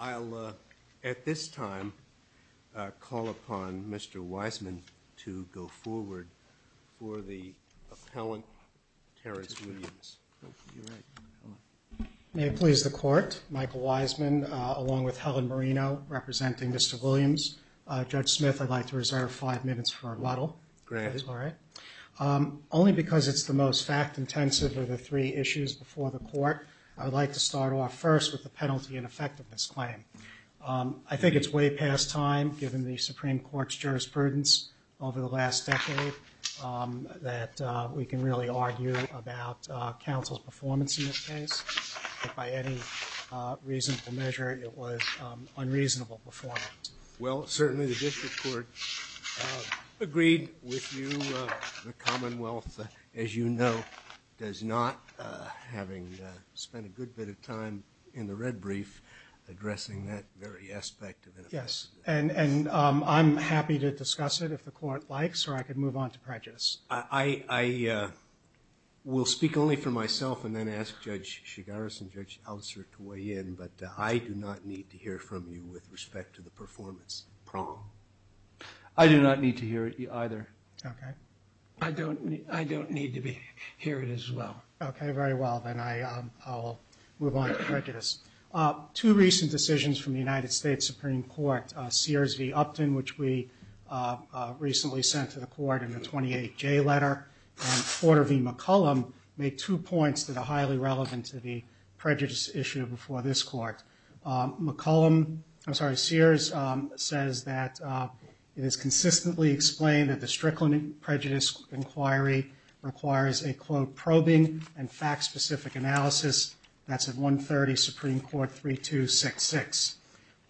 I'll, at this time, call upon Mr. Wiseman to go forward for the appellant, Terrence Williams. May it please the Court, Michael Wiseman, along with Helen Marino, representing Mr. Williams. Judge Smith, I'd like to reserve five minutes for a rattle. Great. Only because it's the most staff-intensive of the three issues before the Court, I would like to start off first with the penalty and effectiveness claim. I think it's way past time, given the Supreme Court's jurisprudence over the last decade, that we can really argue about counsel's performance in this case. If by any reasonable measure, it was unreasonable performance. Well, certainly the District Court agreed with you. The Commonwealth, as you know, does not, having spent a good bit of time in the red brief, addressing that very aspect of it. Yes, and I'm happy to discuss it if the Court likes, or I could move on to prejudice. I will speak only for myself and then ask Judge Chigaris and Judge Hauser to weigh in, but I do not need to hear from you with respect to the performance problem. I do not need to hear it either. I don't need to hear it as well. Okay, very well, then I'll move on to prejudice. Two recent decisions from the United States Supreme Court, Sears v. Upton, which we recently sent to the Court in the 28J letter, and Porter v. McCollum, make two points that are highly relevant to the prejudice issue before this Court. McCollum, I'm sorry, Sears says that it is consistently explained that the Strickland Prejudice Inquiry requires a, quote, probing and fact-specific analysis. That's at 130 Supreme Court 3266.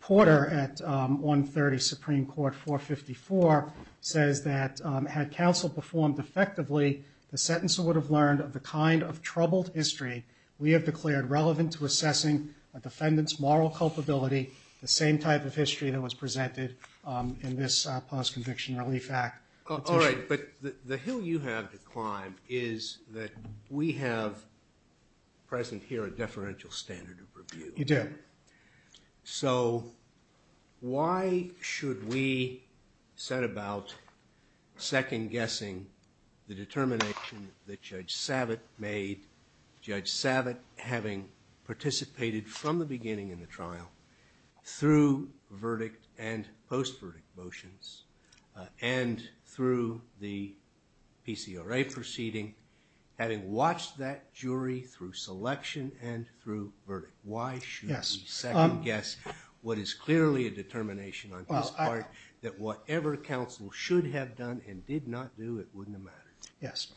Porter at 130 Supreme Court 454 says that had counsel performed effectively, the sentencer would have learned of the kind of troubled history we have declared relevant to assessing a defendant's moral culpability, the same type of history that was presented in this Past Conviction Relief Act. All right, but the hill you have to climb is that we have present here a deferential standard of review. You do. So why should we set about second-guessing the determination that Judge Savitt made, Judge Savitt having participated from the beginning in the trial through verdict and post-verdict motions and through the PCRA proceeding, having watched that jury through selection and through verdict? Why should we second-guess what is clearly a determination on this part that whatever counsel should have done and did not do, it wouldn't have mattered? Yes.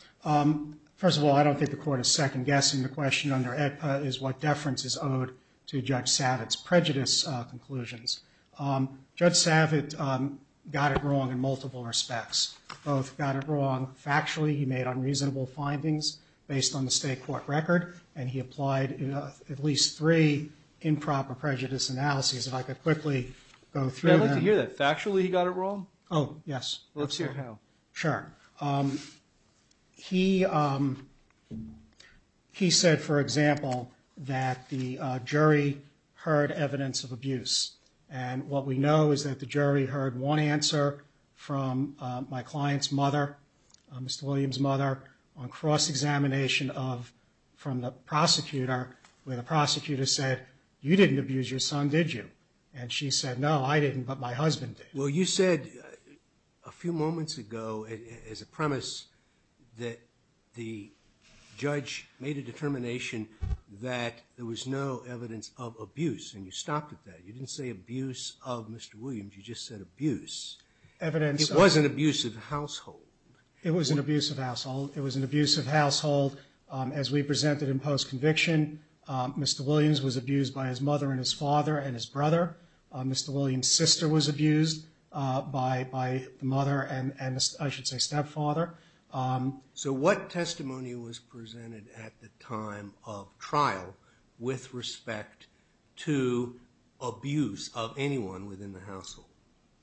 First of all, I don't think the Court is second-guessing the question under EPA is what deference is owed to Judge Savitt's prejudice conclusions. Judge Savitt got it wrong in multiple respects. Both got it wrong factually. He made unreasonable findings based on the state court record, and he applied at least three improper prejudice analyses. If I could quickly go through that. I'd like to hear that. Factually he got it wrong? Oh, yes. Let's hear how. Sure. He said, for example, that the jury heard evidence of abuse. And what we know is that the jury heard one answer from my client's mother, Mr. Williams' mother, on cross-examination from the prosecutor where the prosecutor said, you didn't abuse your son, did you? And she said, no, I didn't, but my husband did. Well, you said a few moments ago, as a premise, that the judge made a determination that there was no evidence of abuse, and you stopped at that. You didn't say abuse of Mr. Williams, you just said abuse. It wasn't abuse of the household. It was an abuse of the household. It was an abuse of the household as we presented in post-conviction. Mr. Williams was abused by his mother and his father and his brother. Mr. Williams' sister was abused by the mother and, I should say, stepfather. So what testimony was presented at the time of trial with respect to abuse of anyone within the household?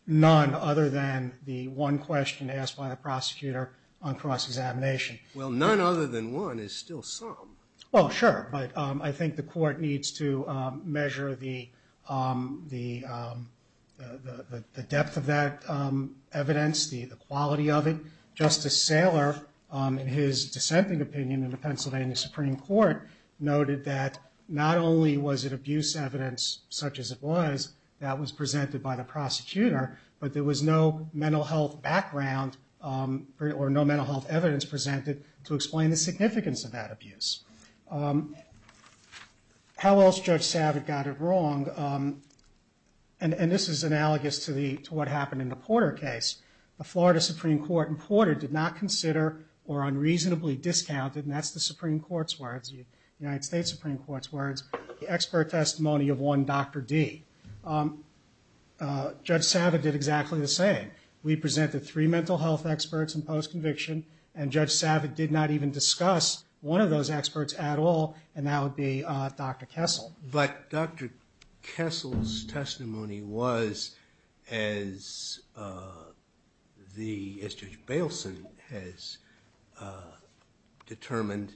None other than the one question asked by the prosecutor on cross-examination. Well, none other than one is still some. Well, sure, but I think the court needs to measure the depth of that evidence, the quality of it. Justice Saylor, in his dissenting opinion in the Pennsylvania Supreme Court, noted that not only was it abuse evidence, such as it was, that was presented by the prosecutor, but there was no mental health background or no mental health evidence presented to explain the significance of that abuse. How else Judge Savitt got it wrong? And this is analogous to what happened in the Porter case. The Florida Supreme Court in Porter did not consider or unreasonably discounted, and that's the Supreme Court's words, the United States Supreme Court's words, the expert testimony of one Dr. D. Judge Savitt did exactly the same. We presented three mental health experts in post-conviction, and Judge Savitt did not even discuss one of those experts at all, and that would be Dr. Kessel. But Dr. Kessel's testimony was, as Judge Bailson has determined,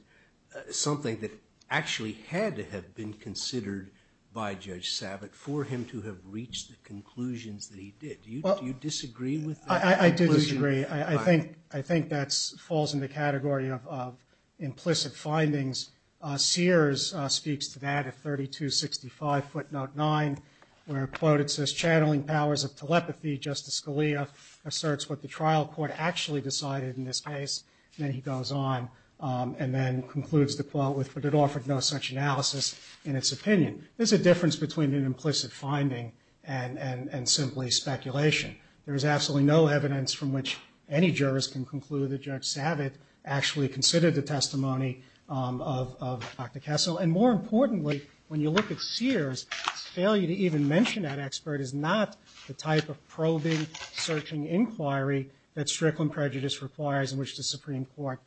something that actually had to have been considered by Judge Savitt for him to have reached the conclusions that he did. Do you disagree with that? I do disagree. I think that falls in the category of implicit findings. Sears speaks to that at 3265 footnote 9, where it's quoted, it says, channeling powers of telepathy, Justice Scalia asserts what the trial court actually decided in this case, and then he goes on and then concludes the quote with, but it offered no such analysis in its opinion. There's a difference between an implicit finding and simply speculation. There's absolutely no evidence from which any jurist can conclude that Judge Savitt actually considered the testimony of Dr. Kessel, and more importantly, when you look at Sears, failure to even mention that expert is not the type of probing, searching inquiry that Strickland prejudice requires in which the Supreme Court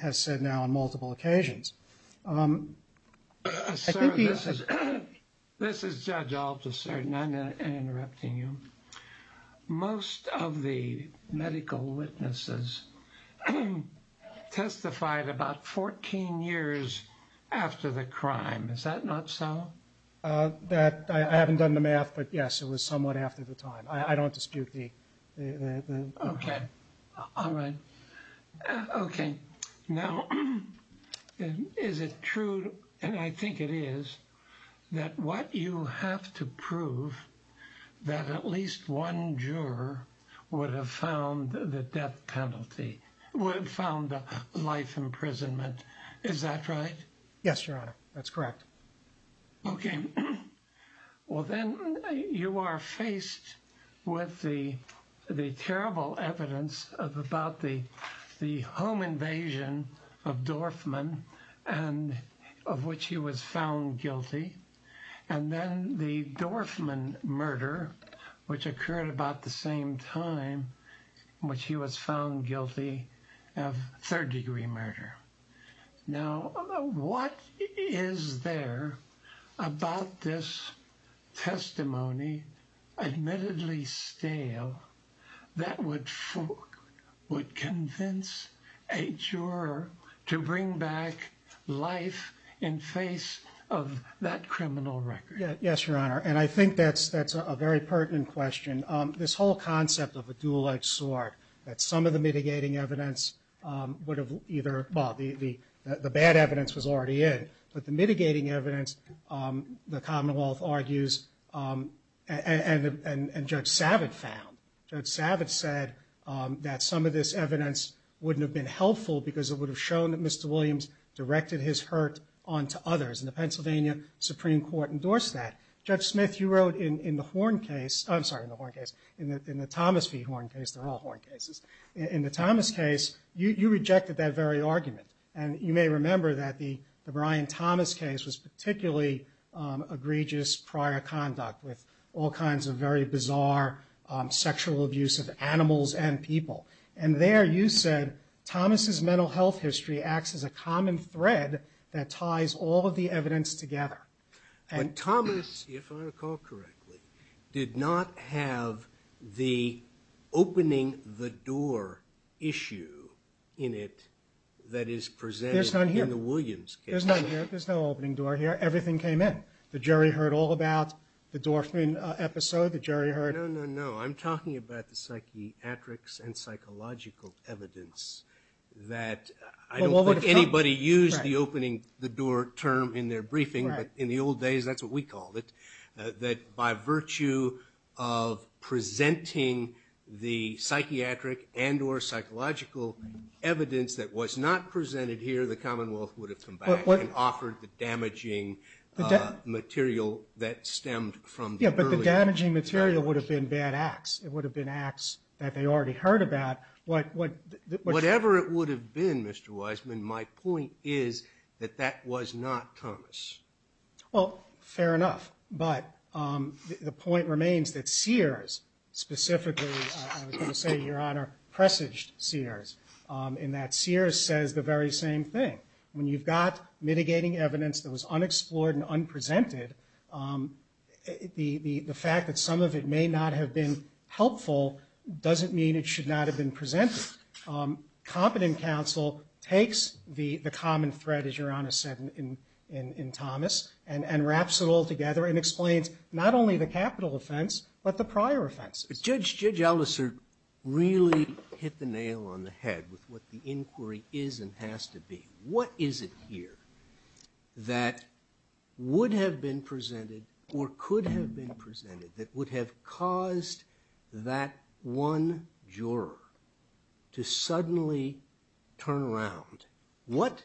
has said now on multiple occasions. This is Judge Alterson. I'm interrupting you. Most of the medical witnesses testified about 14 years after the crime. Is that not so? I haven't done the math, but yes, it was somewhat after the time. I don't dispute the... Okay. All right. Okay. Now, is it true, and I think it is, that what you have to prove that at least one juror would have found the death penalty, would have found the life imprisonment. Is that right? Yes, Your Honor, that's correct. Okay. Well, then you are faced with the terrible evidence about the home invasion of Dorfman, of which he was found guilty, and then the Dorfman murder, which occurred about the same time in which he was found guilty of third-degree murder. Now, what is there about this testimony, admittedly stale, that would convince a juror to bring back life in face of that criminal record? Yes, Your Honor, and I think that's a very pertinent question. This whole concept of the dual-edged sword, that some of the mitigating evidence would have either... Well, the bad evidence was already in, but the mitigating evidence, the Commonwealth argues, and Judge Savitz found. Judge Savitz said that some of this evidence wouldn't have been helpful because it would have shown that Mr. Williams directed his hurt onto others, and the Pennsylvania Supreme Court endorsed that. Judge Smith, you wrote in the Horne case, I'm sorry, in the Horne case, in the Thomas v. Horne case, they're all Horne cases, in the Thomas case, you rejected that very argument, and you may remember that the Brian Thomas case was particularly egregious prior conduct with all kinds of very bizarre sexual abuse of animals and people, and there you said Thomas' mental health history acts as a common thread that ties all of the evidence together. And Thomas, if I recall correctly, did not have the opening the door issue in it that is presented in the Williams case. There's no opening door here, everything came in. The jury heard all about the Dorfman episode, the jury heard... No, no, no, I'm talking about the psychiatric and psychological evidence that I don't think anybody used the opening the door term in their briefing, but in the old days, that's what we called it, that by virtue of presenting the psychiatric and or psychological evidence that was not presented here, the Commonwealth would have come back and offered the damaging material that stemmed from the early... Yeah, but the damaging material would have been bad acts. It would have been acts that they already heard about. Whatever it would have been, Mr. Wiseman, my point is that that was not Thomas. Well, fair enough, but the point remains that Sears, specifically, I was going to say, Your Honor, presaged Sears, and that Sears says the very same thing. When you've got mitigating evidence that was unexplored and unpresented, the fact that some of it may not have been helpful doesn't mean it should not have been presented. Competent counsel takes the common thread, as Your Honor said in Thomas, and wraps it all together and explains not only the capital offense, but the prior offense. Judge Ellison really hit the nail on the head with what the inquiry is and has to be. What is it here that would have been presented or could have been presented that would have caused that one juror to suddenly turn around? What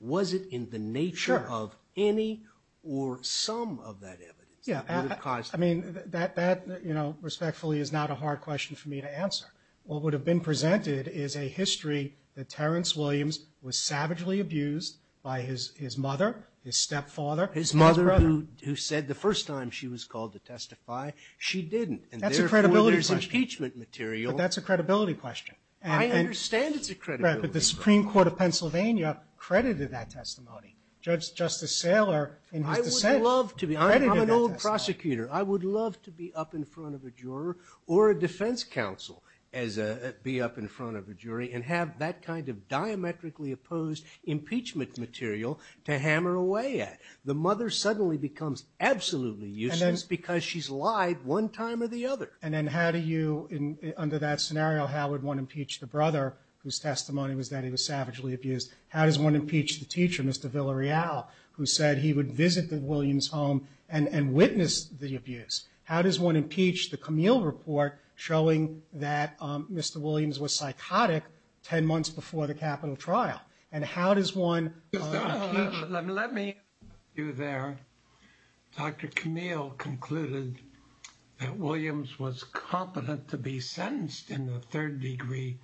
was it in the nature of any or some of that evidence? I mean, that respectfully is not a hard question for me to answer. What would have been presented is a history that Terrence Williams was savagely abused by his mother, his stepfather. His mother who said the first time she was called to testify, she didn't. That's a credibility question. But that's a credibility question. I understand it's a credibility question. But the Supreme Court of Pennsylvania credited that testimony. Judge Justice Saylor. I would love to be. I'm an old prosecutor. I would love to be up in front of a juror or a defense counsel and be up in front of a jury and have that kind of diametrically opposed impeachment material to hammer away at. The mother suddenly becomes absolutely useless because she's lied one time or the other. And then how do you, under that scenario, how would one impeach the brother whose testimony was that he was savagely abused? How does one impeach the teacher, Mr. Villarreal, who said he would visit the Williams home and witness the abuse? How does one impeach the Camille report showing that Mr. Williams was psychotic 10 months before the capital trial? And how does one impeach... Let me... Dr. Camille concluded that Williams was competent to be sentenced in the third degree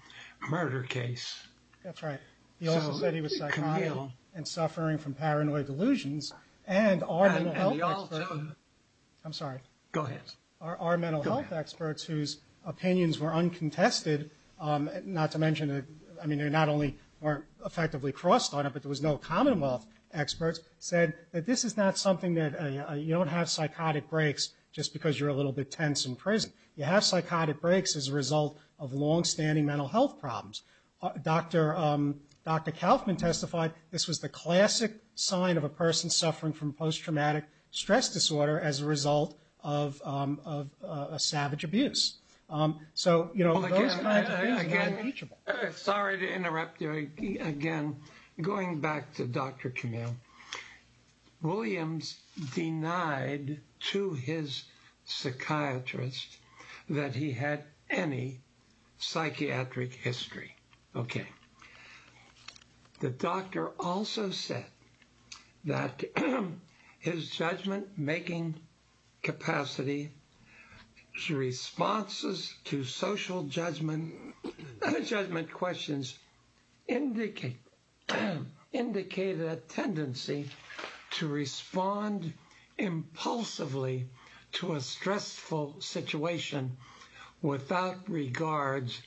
murder case. That's right. He said he was psychotic and suffering from paranoid delusions. And our mental health... I'm sorry. Our mental health experts whose opinions were uncontested, not to mention, I mean, they not only weren't effectively crossed on it, but there was no commonwealth experts, said that this is not something that... You don't have psychotic breaks just because you're a little bit tense in prison. You have psychotic breaks as a result of longstanding mental health problems. Dr. Kaufman testified this was the classic sign of a person suffering from post-traumatic stress disorder as a result of a savage abuse. So, you know... Again... Sorry to interrupt you again. Going back to Dr. Camille, Williams denied to his psychiatrist that he had any psychiatric history. Okay. The doctor also said that his judgment-making capacity to responses to social judgment and judgment questions indicated a tendency to respond impulsively to a stressful situation without regards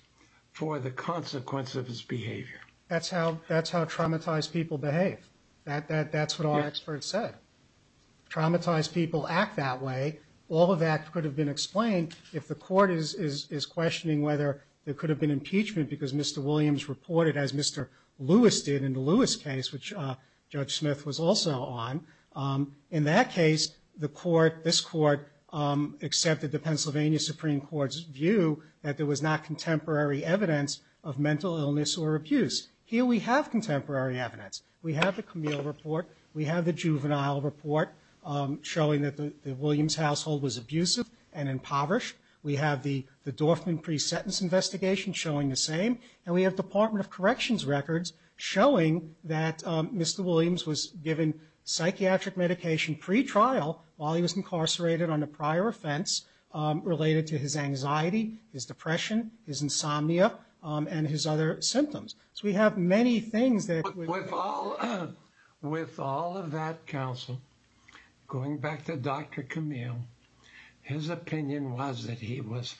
for the consequence of his behavior. That's how traumatized people behave. That's what all experts said. Traumatized people act that way. All of that could have been explained if the court is questioning whether there could have been impeachment because Mr. Williams reported, as Mr. Lewis did in the Lewis case, which Judge Smith was also on. In that case, this court accepted the Pennsylvania Supreme Court's view that there was not contemporary evidence of mental illness or abuse. Here we have contemporary evidence. We have the Camille report. We have the juvenile report showing that the Williams household was abusive and impoverished. We have the Dorfman pre-sentence investigation showing the same. And we have Department of Corrections records showing that Mr. Williams was given psychiatric medication pre-trial while he was incarcerated on a prior offense related to his anxiety, his depression, his insomnia, and his other symptoms. We have many things that... With all of that counsel, going back to Dr. Camille, his opinion was that he was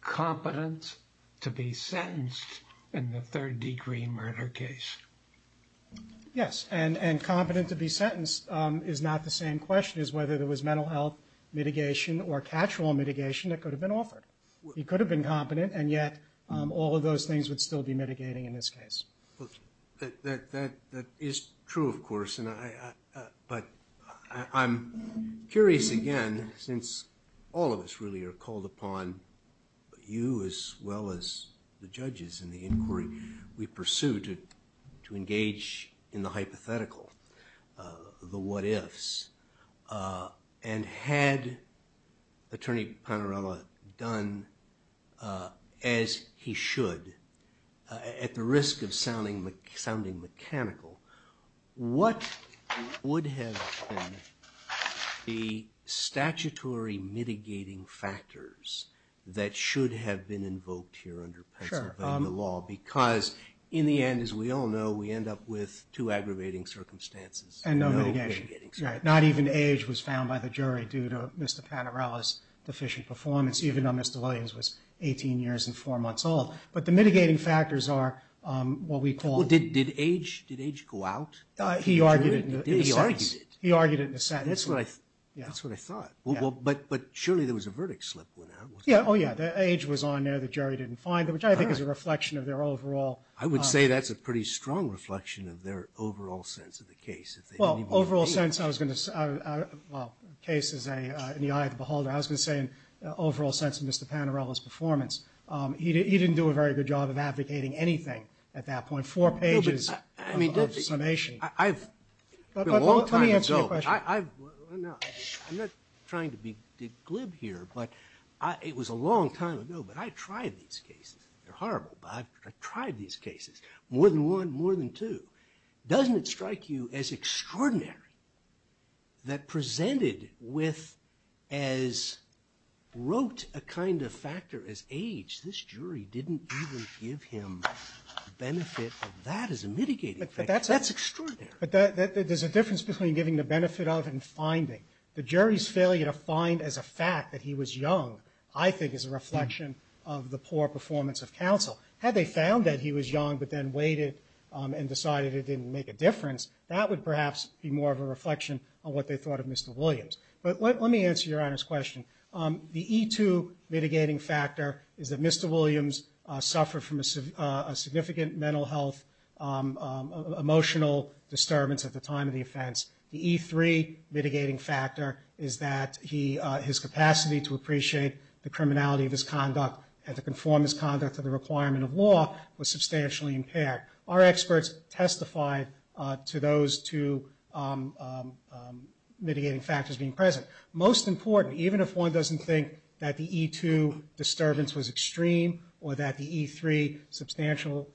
competent to be sentenced in the third degree murder case. Yes. And competent to be sentenced is not the same question as whether there was mental health mitigation that could have been offered. He could have been competent, and yet all of those things would still be mitigating in this case. That is true, of course. But I'm curious again, since all of us really are called upon, you as well as the judges and the inquiry, we pursue to engage in the hypothetical, the what-ifs. And had Attorney Panorama done as he should at the risk of sounding mechanical, what would have been the statutory mitigating factors that should have been invoked here under the law? Because in the end, as we all know, And no mitigation. Not even age was found by the jury in Panorama's deficient performance, even though Mr. Williams was 18 years and four months old. But the mitigating factors are what we call... Did age go out? He argued it. He argued it in a sentence. That's what I thought. But surely there was a verdict slip. Oh, yeah. Age was on there that jury didn't find, which I think is a reflection of their overall... I would say that's a pretty strong reflection of their overall sense of the case. Well, overall sense, I was going to say, well, the case is in the eye of the beholder. I was going to say in the overall sense of Mr. Panorama's performance. He didn't do a very good job of advocating anything at that point. Four pages of summation. Let me ask you a question. I'm not trying to be glib here, but it was a long time ago, but I tried these cases. They're horrible, but I tried these cases. More than one, more than two. Doesn't it strike you as extraordinary that presented with as... wrote a kind of factor as age. This jury didn't even give him the benefit of that as a mitigating factor. That's extraordinary. There's a difference between giving the benefit of and finding. The jury's failure to find as a fact that he was young, I think is a reflection of the poor performance of counsel. Had they found that he was young and his behavior didn't make a difference, that would perhaps be more of a reflection on what they thought of Mr. Williams. Let me answer Your Honor's question. The E2 mitigating factor is that Mr. Williams suffered from a significant mental health, emotional disturbance at the time of the offense. The E3 mitigating factor is that his capacity to appreciate the criminality of his conduct and the conformance conduct of the requirement of law was substantially impaired. Our experts testified to those two mitigating factors being present. Most important, even if one doesn't think that the E2 disturbance was extreme or that the E3 substantial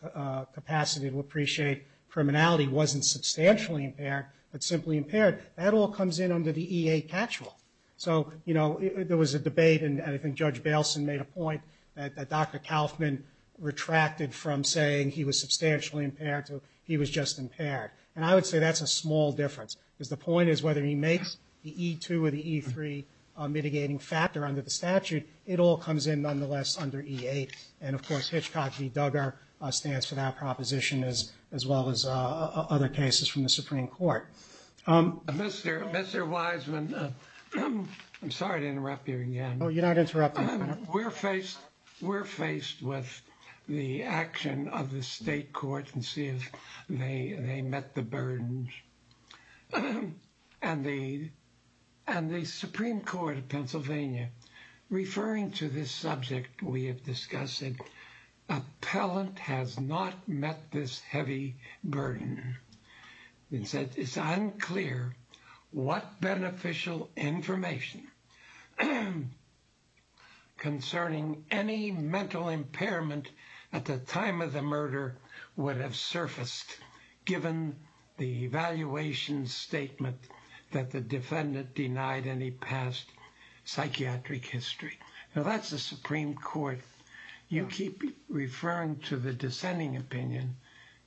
capacity to appreciate criminality wasn't substantially impaired but simply impaired, that all comes in under the E8 catch-all. So, you know, there was a debate and I think Judge Bailson made a point that Dr. Kaufman retracted from saying he was substantially impaired to he was just impaired. And I would say that's a small difference because the point is whether he makes the E2 or the E3 mitigating factor under the statute, it all comes in nonetheless under E8. And of course, Hitchcock, he dug our stance to that proposition as well as other cases from the Supreme Court. Mr. Wiseman, I'm sorry to interrupt you again. No, you're not interrupting. We're faced with the action of the state court and see if they met the burden. And the Supreme Court of Pennsylvania referring to this subject, we have discussed it. Appellant has not met this heavy burden. It's unclear what beneficial information concerning any mental impairment at the time of the murder would have surfaced given the evaluation statement that the defendant denied any past psychiatric history. Now that's the Supreme Court. You keep referring to the dissenting opinion.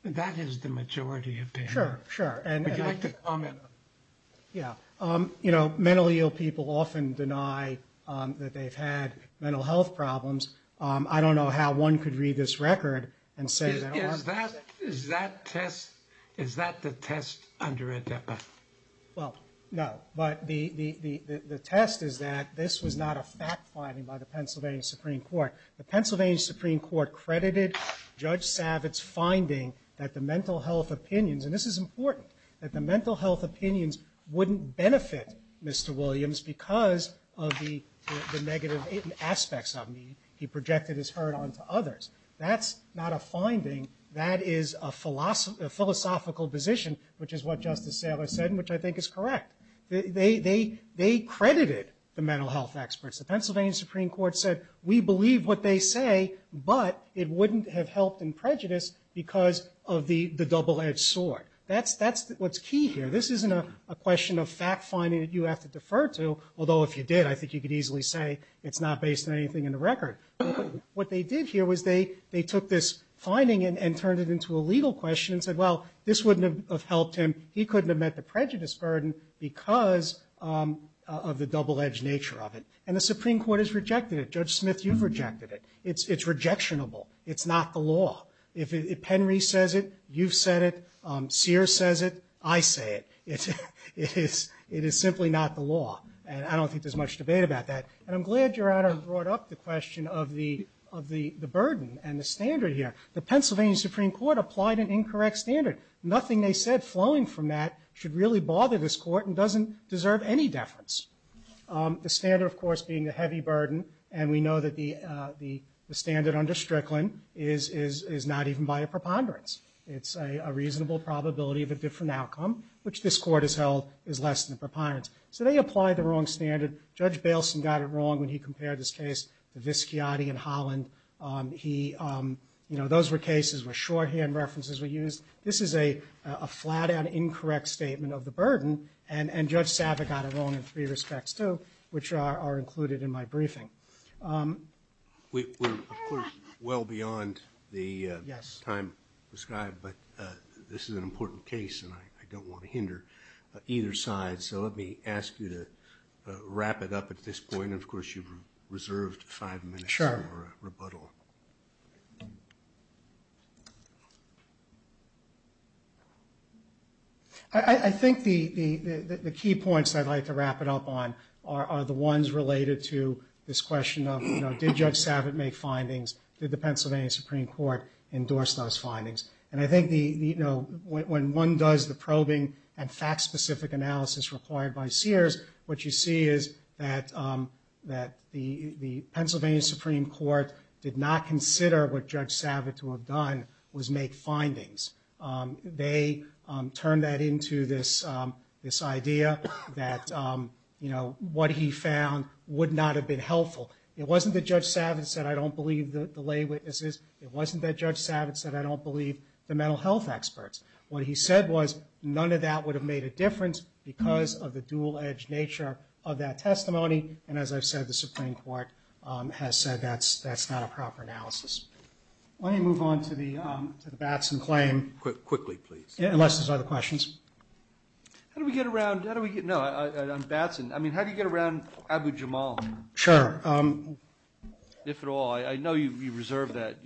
That is the majority opinion. Sure, sure. Yeah. Mentally ill people often deny that they've had mental health problems. I don't know how one could read this record and say that. Is that the test under ADEPA? Well, no. But the test is that this was not a fact finding by the Pennsylvania Supreme Court. The Pennsylvania Supreme Court credited Judge Savitz's finding that the mental health opinions, and this is important, that the mental health opinions wouldn't benefit Mr. Williams because of the negative aspects of him. He projected his hurt onto others. That's not a finding. That is a philosophical position, which is what Justice Taylor said and which I think is correct. They credited the mental health experts. The Pennsylvania Supreme Court said we believe what they say, but it wouldn't have helped in prejudice because of the double-edged sword. That's what's key here. This isn't a question of fact finding that you have to defer to, although if you did, I think you could easily say it's not based on anything in the record. What they did here was they took this finding and turned it into a legal question and said, well, this wouldn't have helped him. He couldn't have met the prejudice burden because of the double-edged nature of it. And the Supreme Court has rejected it. Judge Smith, you've rejected it. It's rejectionable. It's not the law. If Henry says it, you've said it. Sears says it, I say it. It's strictly not the law. And I don't think there's much debate about that. And I'm glad Gerardo brought up the question of the burden and the standard here. The Pennsylvania Supreme Court applied an incorrect standard. Nothing they said flowing from that should really bother this court and doesn't deserve any deference. The standard, of course, being the heavy burden and we know that the standard under Strickland is not even by a preponderance. It's a reasonable probability of a different outcome, which this court has held is less than preponderance. So they applied the wrong standard. Judge Bailson got it wrong when he compared this case to Visciati and Holland. He, you know, those were cases where shorthand references were used. This is a flat-out incorrect statement of the burden. And Judge Sava got it wrong in three respects, too, which are included in my briefing. We're, of course, well beyond the time prescribed, but this is an important case and I don't want to hinder either side. So let me ask you to wrap it up at this point. Of course, you've reserved five minutes for rebuttal. Sure. I think the key points I'd like to wrap it up on are the ones related to this question of, you know, did Judge Sava make findings? Did the Pennsylvania Supreme Court endorse those findings? And I think, you know, when one does the probing and fact-specific analysis required by Sears, what you see is that the Pennsylvania Supreme Court did not consider what Judge Sava to have done was make findings. They turned that into this idea that, you know, what he found would not have been helpful. It wasn't that Judge Sava said I don't believe the lay witnesses. It wasn't that Judge Sava said I don't believe the mental health experts. What he said was none of that would have made a difference because of the dual-edged nature of that testimony. And as I said, the Supreme Court has said that's not a proper analysis. Let me move on to the Batson claim. Quickly, please. Unless there's other questions. How do we get around, no, on Batson, I mean, how do you get around Abu Jamal? Sure. If at all. I know you reserved that.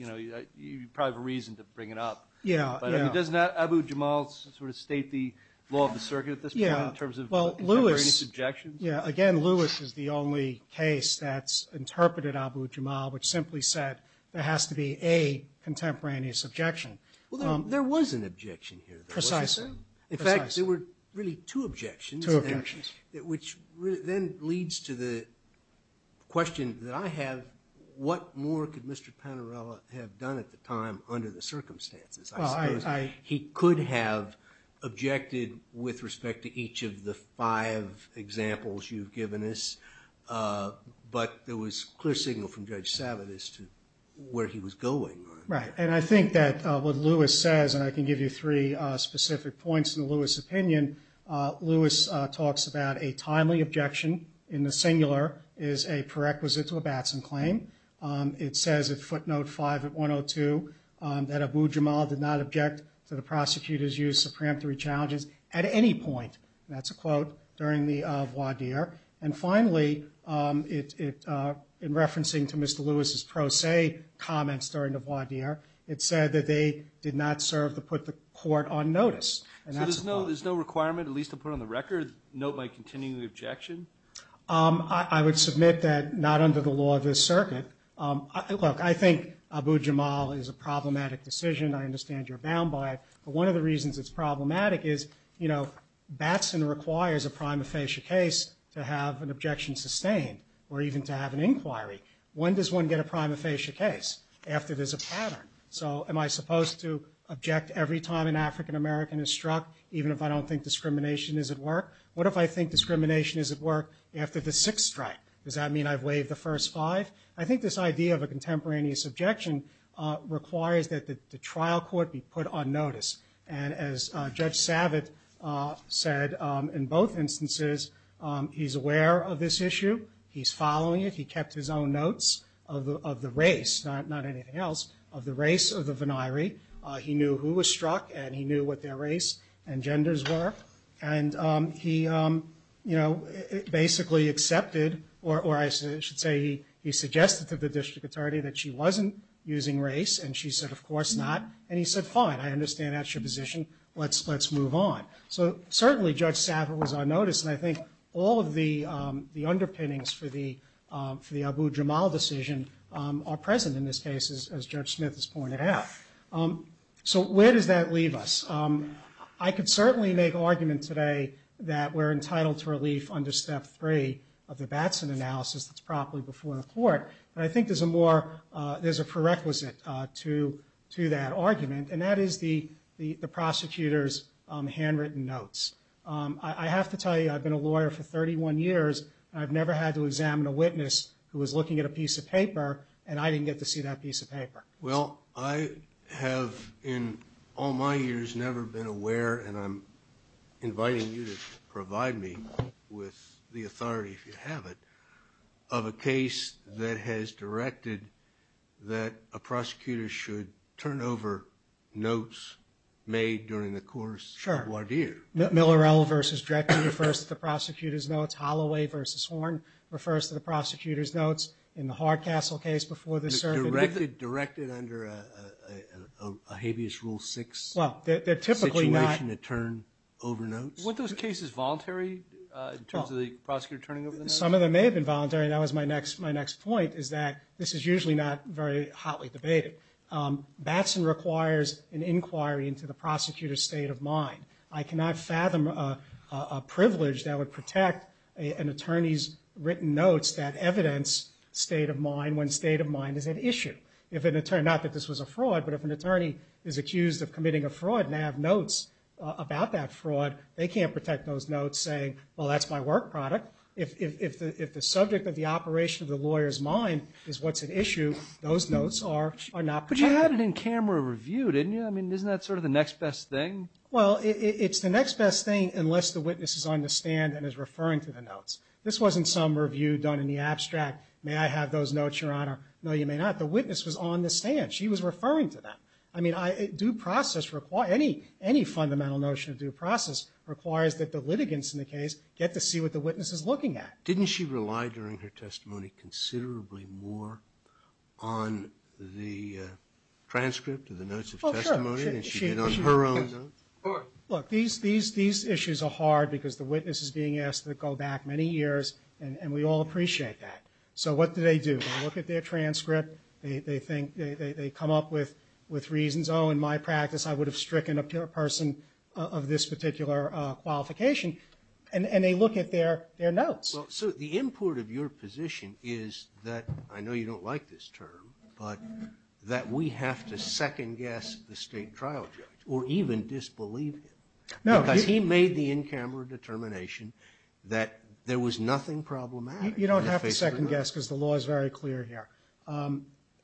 Yeah, yeah. Doesn't that Abu Jamal sort of state the law of the circuit at this point in terms of contemporaneous objections? Yeah, again, Lewis is the only case that's interpreted Abu Jamal which simply said there has to be a contemporaneous objection. Well, there was an objection here. Precisely. In fact, there were really two objections. Two objections. Which then leads to the question that I have, what more could Mr. Panarello have done at the time or under the circumstances? I suppose he could have objected with respect to each of the five examples you've given us, but there was clear signal from Judge Savitt as to where he was going. Right. And I think that what Lewis says, and I can give you three specific points in Lewis' opinion, Lewis talks about a timely objection in the singular is a prerequisite to a Batson claim. It says at footnote five at 102 that Abu Jamal did not object to the prosecutor's use of preemptory challenges at any point, that's a quote, during the voir dire. And finally, in referencing to Mr. Lewis' pro se comments during the voir dire, it said that they did not serve to put the court on notice. So there's no requirement, at least to put on the record, a note like continuing the objection? I would submit that not under the law of this circuit. Look, I think Abu Jamal is a problematic decision. I understand you're bound by it. But one of the reasons it's problematic is, you know, Batson requires a prima facie case to have an objection sustained or even to have an inquiry. When does one get a prima facie case? After there's a pattern. So am I supposed to object every time an African American is struck even if I don't think discrimination is at work? What if I think discrimination is at work after the sixth strike? Does that mean I've waived the first five? I think this idea of a contemporaneous objection requires that the trial court be put on notice. And as Judge Savitz said, in both instances, he's aware of this issue. He's following it. He kept his own notes of the race, not anything else, of the race of the venire. He knew who was struck and he knew what their race and genders were. He, you know, basically accepted or I should say he suggested to the district attorney that she wasn't using race and she said, of course not. And he said, fine, I understand that's your position. Let's move on. So certainly Judge Savitz was on notice and I think all of the underpinnings for the Abu Jamal decision are present in this case as Judge Smith has pointed out. So where does that leave us? I could certainly make an argument today that we're entitled to relief under step three of the Batson analysis that's properly before the court. But I think there's a more, there's a prerequisite to that argument and that is the prosecutor's handwritten notes. I have to tell you, I've been a lawyer for 31 years and I've never had to examine a witness who was looking at a piece of paper and I didn't get to see that piece of paper. Well, I have in all my years never been aware and I'm inviting you to provide me with the authority, if you have it, of a case that has directed that a prosecutor should turn over notes made during the course of a review. Sure. Millerell versus Dreckton refers to the prosecutor's notes. Holloway versus Horne refers to the prosecutor's notes in the Hardcastle case before the circuit. Directed under a habeas rule six? Well, they're typically not... Six weeks in a term, over notes? Were those cases voluntary in terms of the prosecutor turning over the notes? Some of them may have been voluntary. That was my next point is that this is usually not very hotly debated. Batson requires an inquiry into the prosecutor's state of mind. I cannot fathom a privilege that would protect an attorney's written notes when state of mind is at issue. If an attorney, not that this was a fraud, but if an attorney is accused of committing a fraud and they have notes about that fraud, they can't protect those notes saying, well, that's my work product. If the subject of the operation of the lawyer's mind is what's at issue, those notes are not protected. But you had it in camera review, didn't you? I mean, isn't that sort of the next best thing? Well, it's the next best thing unless the witness is on the stand and is referring to the notes. This wasn't some review done in the abstract. May I have those notes, Your Honor? No, you may not. The witness was on the stand. She was referring to them. I mean, due process requires, any fundamental notion of due process requires that the litigants in the case get to see what the witness is looking at. Didn't she rely during her testimony considerably more on the transcript of the notes of testimony than she did on her own notes? Oh, sure. Look, these issues are hard because the witness is being asked to go back many years, and we all appreciate that. They come up with reasons. Oh, in my practice, I would have stricken a person of this particular qualification. And they look at their notes. Well, so the import of your position is that, I know you don't like this term, but that we have to second-guess the state trial judge or even disbelieve him. No. He made the in-camera determination that there was nothing problematic. You don't have to second-guess because the law is very clear here.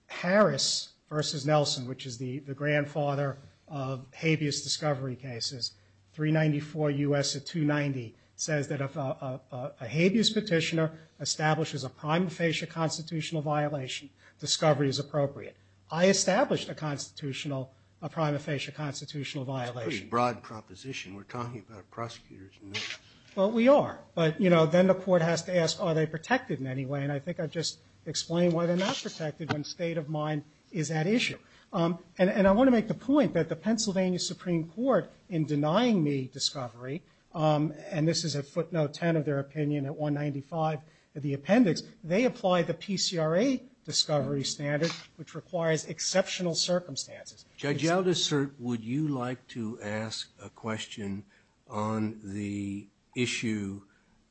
Harris versus Nelson, which is the grandfather of habeas discovery cases, 394 U.S. or 290, says that if a habeas petitioner establishes a prima facie constitutional violation, discovery is appropriate. I established a constitutional, a prima facie constitutional violation. That's a pretty broad proposition. We're talking about prosecutors. Well, we are. But then the court has to ask, are they protected in any way? And the state of mind is at issue. And I want to make the point that the Pennsylvania Supreme Court in denying me discovery, and this is a footnote 10 of their opinion at 195 of the appendix, they apply the PCRA discovery standards, which requires exceptional circumstances. Judge Aldiser, would you like to ask a question on the issue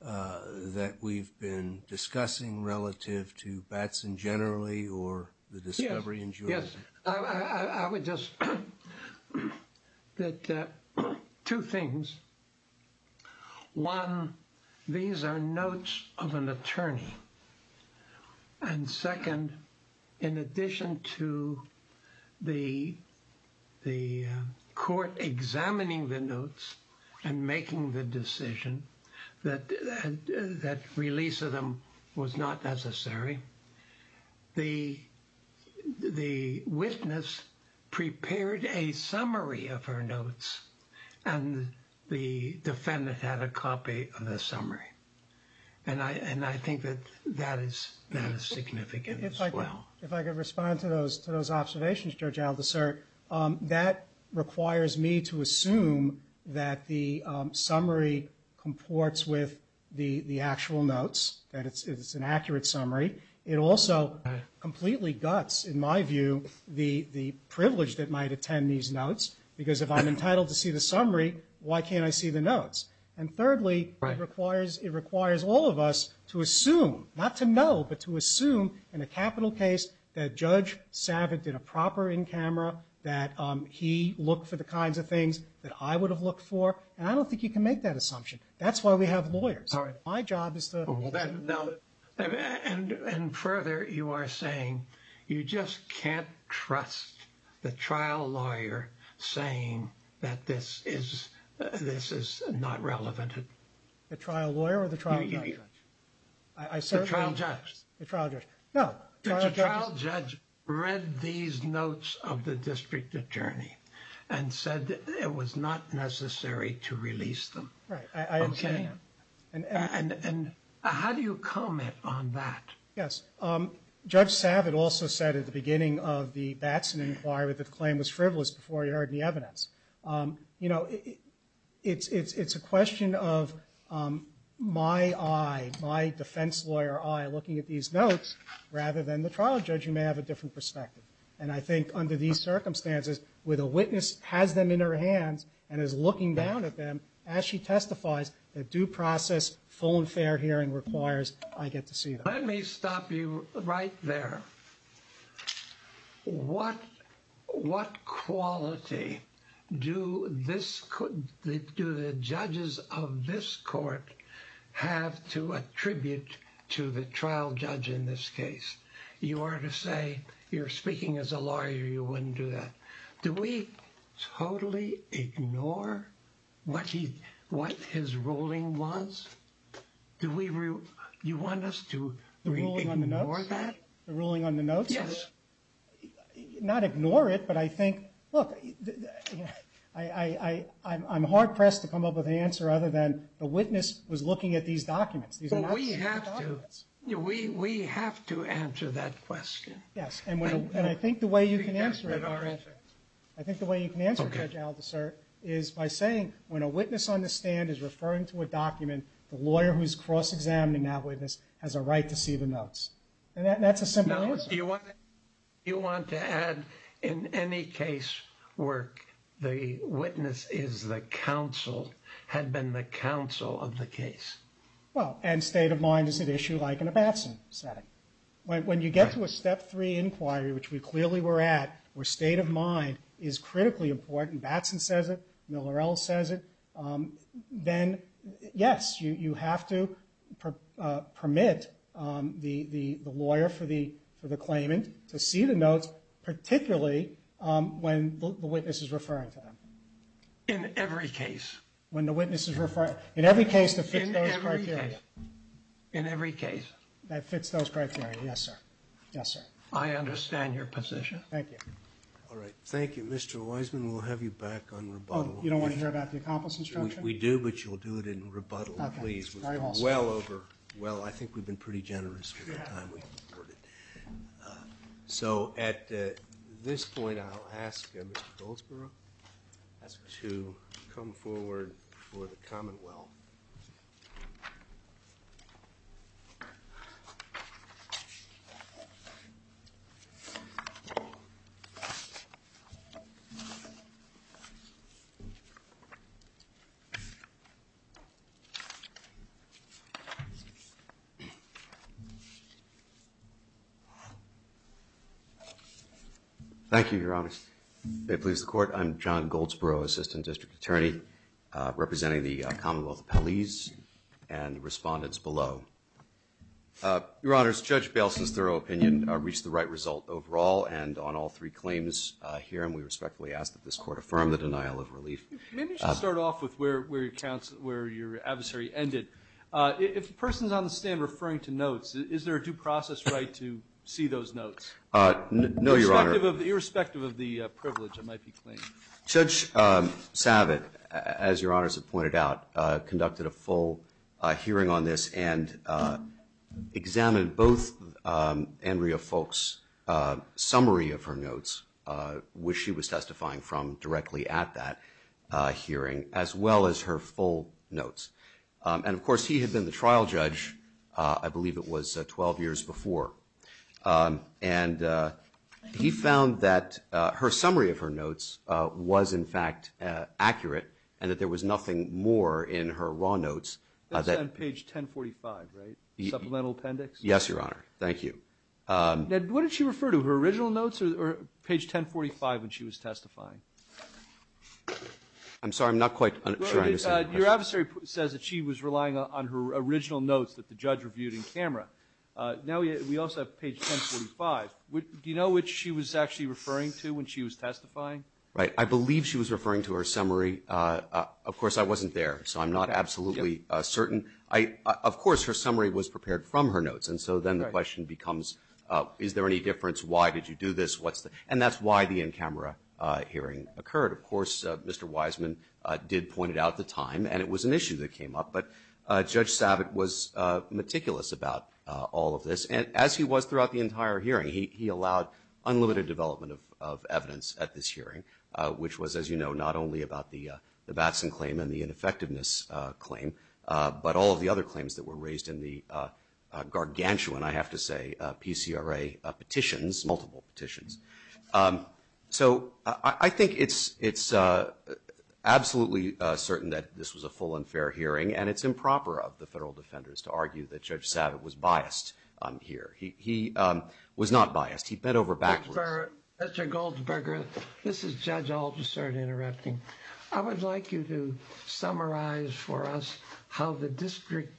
that we've been discussing relative to Batson generally or the discovery in Juarez? Yes. I would just, two things. One, these are notes of an attorney. And second, in addition to the court examining the notes and making the decision that release of them was not necessary, the witness prepared a summary of her notes and the defendant had a copy of the summary. And I think that that is significant as well. If I could respond to those observations, Judge Aldiser, that requires me to assume that the summary comports with the actual notes, that it's an accurate summary. It also completely guts, in my view, the privilege that might attend these notes, because if I'm entitled to see the summary, why can't I see the notes? And thirdly, it requires all of us to assume, not to know, but to assume in a capital case that Judge Savitt did a proper in camera, that he looked for the kinds of things that I would have looked for. And I don't think he can make that assumption. That's why we have lawyers. My job is to... And further, you are saying you just can't trust the trial lawyer saying that this is not relevant. The trial lawyer or the trial judge? The trial judge. The trial judge. The trial judge read these notes of the district attorney and said that it was not necessary to release them. I understand. And how do you comment on that? Yes. Judge Savitt also said at the beginning of the vaccine inquiry that the claim was frivolous before he heard the evidence. You know, it's a question of my eye, my defense lawyer eye looking at these notes rather than the trial judge who may have a different perspective. And I think under these circumstances where the witness has them in her hands and is looking down at them as she testifies, a due process phone fair hearing requires I get to see them. Let me stop you right there. What... What quality do the judges of this court have to attribute to the trial judge in this case? You are to say you're speaking as a lawyer you wouldn't do that. Do we totally ignore what he... What his ruling was? Do we... You want us to ignore that? The ruling on the notes? Yes. Not ignore it, but I think, look, I'm hard pressed to come up with an answer other than the witness was looking at these documents. We have to. We have to answer that question. Yes. And I think the way you can answer it, I think the way you can answer it, Judge Alviser, is by saying when a witness on the stand is referring to a document, the lawyer who's cross-examining that witness has a right to see the notes. And that's a simple answer. Do you want to add in any case where the witness is the counsel had been the counsel of the case? Well, and state of mind is an issue like in a bachelor setting. When you get to a step three inquiry which we clearly were at where state of mind is critically important, Batson says it, Millerell says it, then, yes, you have to permit the lawyer for the claimant to see the notes particularly when the witness is referring to them. In every case. When the witness is referring. In every case. In every case. In every case. That fits those criteria. Yes, sir. Yes, sir. I understand your position. Thank you. All right. Thank you, Mr. Wiseman. We'll have you back on rebuttal. Oh, you don't want to hear about the accomplice instruction? We do, but you'll do it in rebuttal, please. Okay. Very well, sir. Well, I think we've been pretty generous with the time we've converted. So, at this point, I'll ask Mr. Goldsboro to come forward for the commonwealth. Thank you, Your Honor. If it pleases the court, I'm John Goldsboro, Assistant District Attorney representing the Commonwealth of Palis and respondents below. Your Honor, to come forward for the commonwealth. Thank you, Your Honor. Thank you, Your Honor. Thank you, Your Honor. There are no claims here, and we respectfully ask that this court affirm the denial of relief. Maybe we should start off with where your adversary ended. If the person is on the stand referring to notes, is there a due process right to see those notes? No, Your Honor. Irrespective of the privilege it might be claimed. Judge Savitt, as Your Honor has pointed out, conducted a full hearing on this and examined both Andrea Foulkes' summary of her notes which she was testifying from directly at that hearing as well as her full notes. And of course, he had been the trial judge I believe it was 12 years before. And he found that her summary of her notes was in fact accurate and that there was nothing more in her raw notes. That's on page 1045, right? Supplemental appendix? Yes, Your Honor. Thank you. What did she refer to? Her original notes or page 1045 when she was testifying? I'm sorry. I'm not quite sure. Your adversary says that she was relying on her original notes that the judge reviewed in camera. Now we also have page 1045. Do you know what she was actually referring to when she was testifying? Right. I believe she was referring to her summary. Of course, I wasn't there so I'm not absolutely certain. Of course, her summary was prepared from her notes and so then the question becomes is there any difference? Why did you do this? And that's why the in-camera hearing occurred. Of course, Mr. Wiseman did point it out at the time and it was an issue that came up but Judge Savitt was meticulous about all of this and as he was throughout the entire hearing, he allowed unlimited development of evidence at this hearing which was, as you know, not only about the Batson claim and the ineffectiveness claim but all of the other claims that were raised in the gargantuan, I have to say, PCRA petitions multiple petitions. So, I think it's absolutely certain that this was a full and fair hearing and it's improper of the federal defenders to argue that Judge Savitt was biased here. He was not biased. He bent over backwards. Mr. Goldberger, this is Judge Alton, sorry to interrupt you. I would like you to summarize for us how the district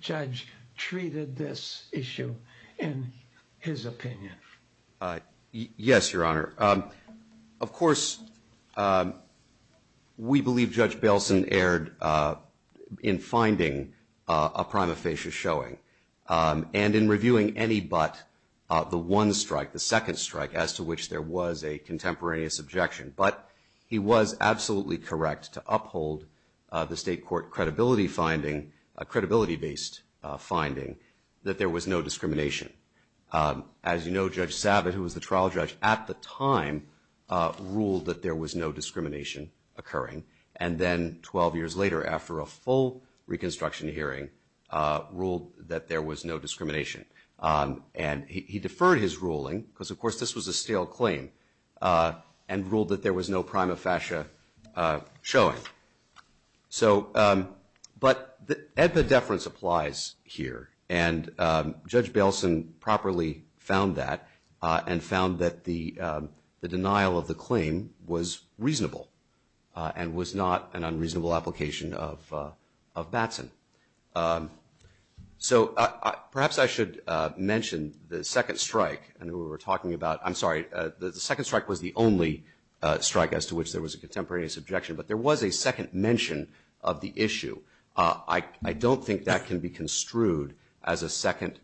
judge treated this issue and his opinion. Yes, Your Honor. Of course, we believe Judge Batson erred in finding a prima facie showing and in reviewing any but the one strike, the second strike as to which there was a contemporaneous objection but he was absolutely correct to uphold the state court credibility finding, a credibility-based finding that there was no discrimination. As you know, Judge Savitt, who was the trial judge at the time ruled that there was no discrimination occurring and then 12 years later after a full reconstruction hearing ruled that there was no discrimination and he deferred his ruling because, of course, this was a stale claim and ruled that there was no prima facie showing. So, but the deference applies here and Judge Batson properly found that and found that the denial of the claim was reasonable and was not an unreasonable application of Batson. So, perhaps I should mention the second strike and we were talking about, I'm sorry, the second strike was the only strike as to which there was a contemporaneous objection but there was a second mention of the issue. I don't think that can be construed as a second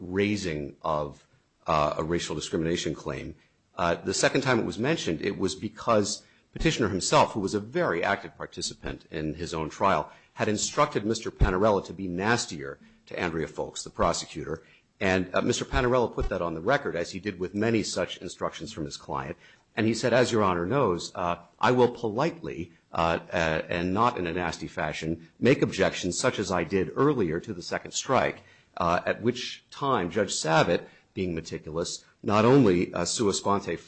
raising of a racial discrimination claim. The second time it was mentioned it was because Petitioner himself who was a very active participant in his own trial had instructed Mr. Panarello to be nastier to Andrea Folks, the prosecutor and Mr. Panarello put that on the record as he did with many such instructions from his client and he said, as your Honor knows, I will politely and not in a nasty fashion make objections such as I did earlier to the second strike at which time Judge Savitt being meticulous not only Sua Sponte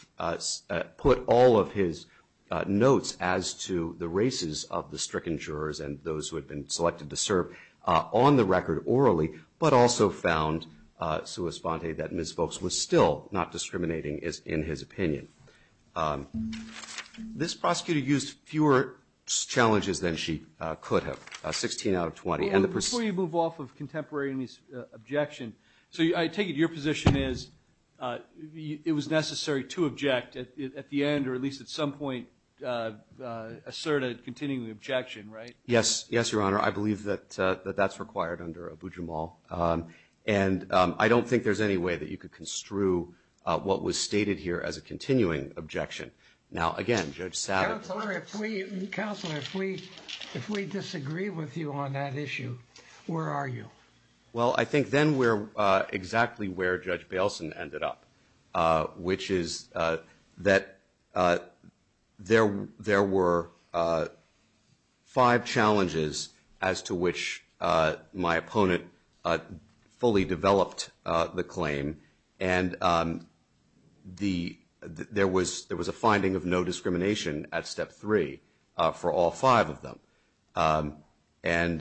put all of his notes as to the races of the stricken jurors and those who had been selected to serve on the record orally but also found Sua Sponte that Ms. Folks was still not discriminating in his opinion. This prosecutor used fewer challenges than she could have. 16 out of 20. Before you move off of contemporary objection, I take it your position is it was necessary to object at the end or at least at some point assert a continuing objection, right? Yes, Your Honor. I believe that that's required under Abu Jamal and I don't think there's any way that you could construe what was stated here as a continuing objection. Now, again, Judge Satter, Counselor, if we disagree with you on that issue, where are you? Well, I think then we're exactly where Judge Bailson which is that there were five challenges as to which my opponent fully developed the claim and the issue was that there was a finding of no discrimination at step three for all five of them and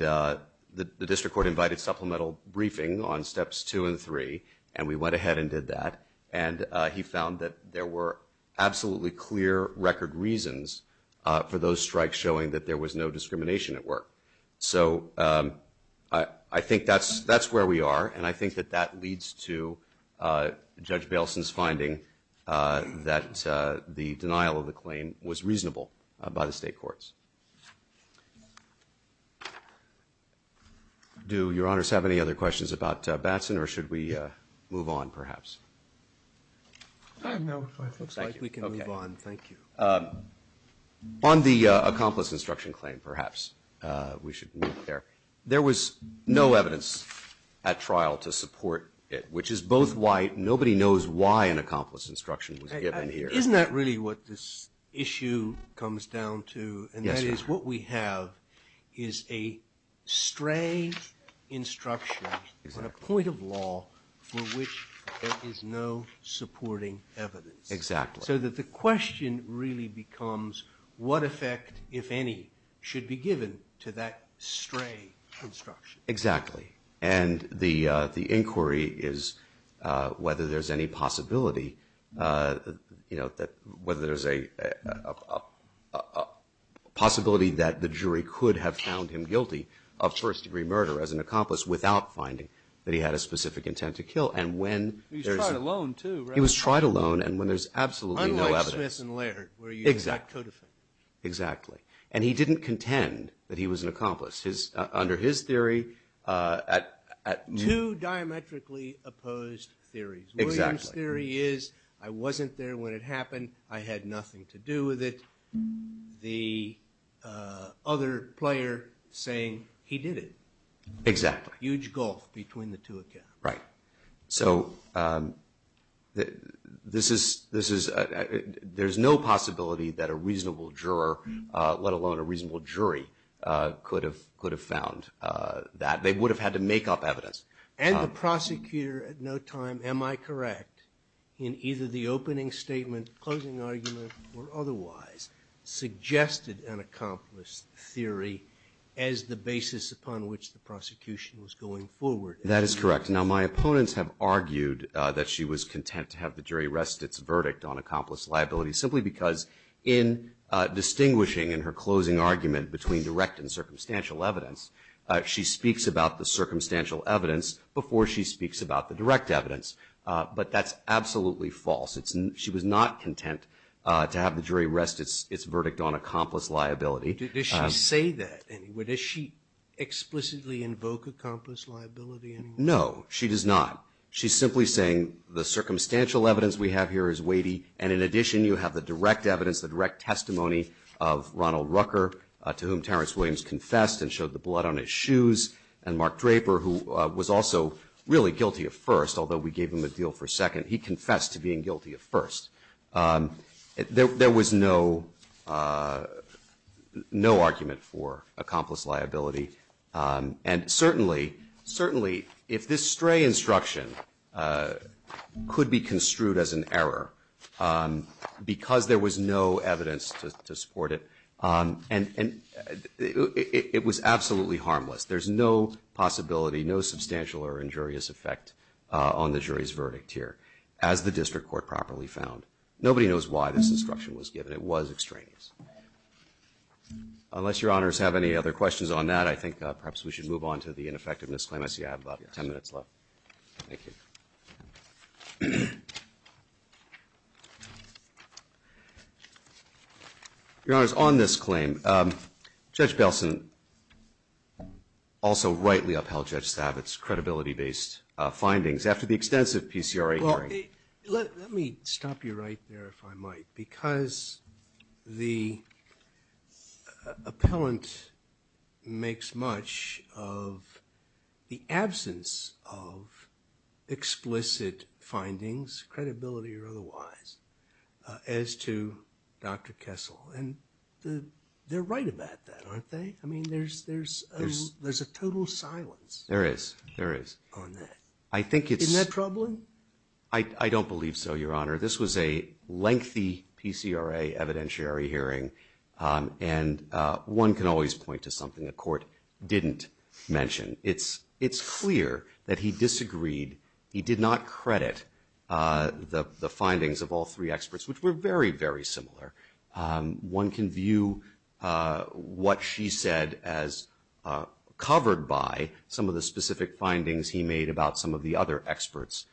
the District Court invited supplemental briefing on steps two and three and we went ahead and did that and he found that there were absolutely clear record reasons for those strikes showing that there was no discrimination at work. So, I think that's where we are and I think that that leads to Judge Bailson's finding that the denial of the claim was reasonable by the State Courts. Do Your Honors have any other questions about Batson or should we move on On the accomplice instruction claim perhaps we should move there. There was no evidence at trial to support it, which is both why nobody knows why an accomplice instruction was given here. Isn't that really what this issue comes down to and that is what we have is a stray instruction on a point of law for which there is no supporting evidence. Exactly. So that the question really becomes what effect, if any, should be given to that stray instruction. Exactly. And the inquiry is whether there is any possibility whether there is a possibility that the jury could have found him guilty of first degree murder as an accomplice without finding that he had a specific intent to kill. He was tried alone too. Exactly. And he didn't contend that he was an accomplice. Two diametrically opposed theories. I wasn't there when it happened. I had nothing to do with it. I was there saying he did it. Exactly. Huge gulf between the two accounts. Right. So there's no possibility that a reasonable juror, let alone a reasonable jury, could have found that. They would have had to make up evidence. And the prosecutor at no time, am I correct, said that she was content to have the jury rest its verdict on accomplice liability simply because in distinguishing in her closing argument between direct and circumstantial evidence, she speaks about the circumstantial evidence before she speaks about the direct evidence. But that's absolutely false. She was not content to have the jury rest its verdict on accomplice liability. Does she explicitly invoke accomplice liability? No, she does not. She's simply saying the circumstantial evidence we have here is weighty and in addition you have the direct testimony of Ronald Rucker and Mark Draper who was also guilty at first. He confessed to being guilty at first. There was no argument for accomplice liability and certainly if this gray instruction could be construed as an error because there was no evidence to support it and it was absolutely harmless. There's no possibility, no substantial or injurious effect on the jury's verdict here as the district court properly found. Nobody knows why this instruction was given. It was extraneous. Unless your honors have any other questions on that, I think perhaps we should move on to the ineffectiveness claim. I see I have about 10 minutes left. Thank you. Your honors, on this claim, Judge Belson also rightly upheld Judge Stavitz's credibility based findings after the extensive PCRA hearing. Let me stop you right there if I might because the appellant makes much of the absence of explicit findings, credibility or otherwise, as to why the court did not mention it. I think it's disagreed. He did not credit the findings of all three experts, which were very, very similar. I think the case is very similar. One can view what she said as covered by some of the specific findings he made about some of the other experts'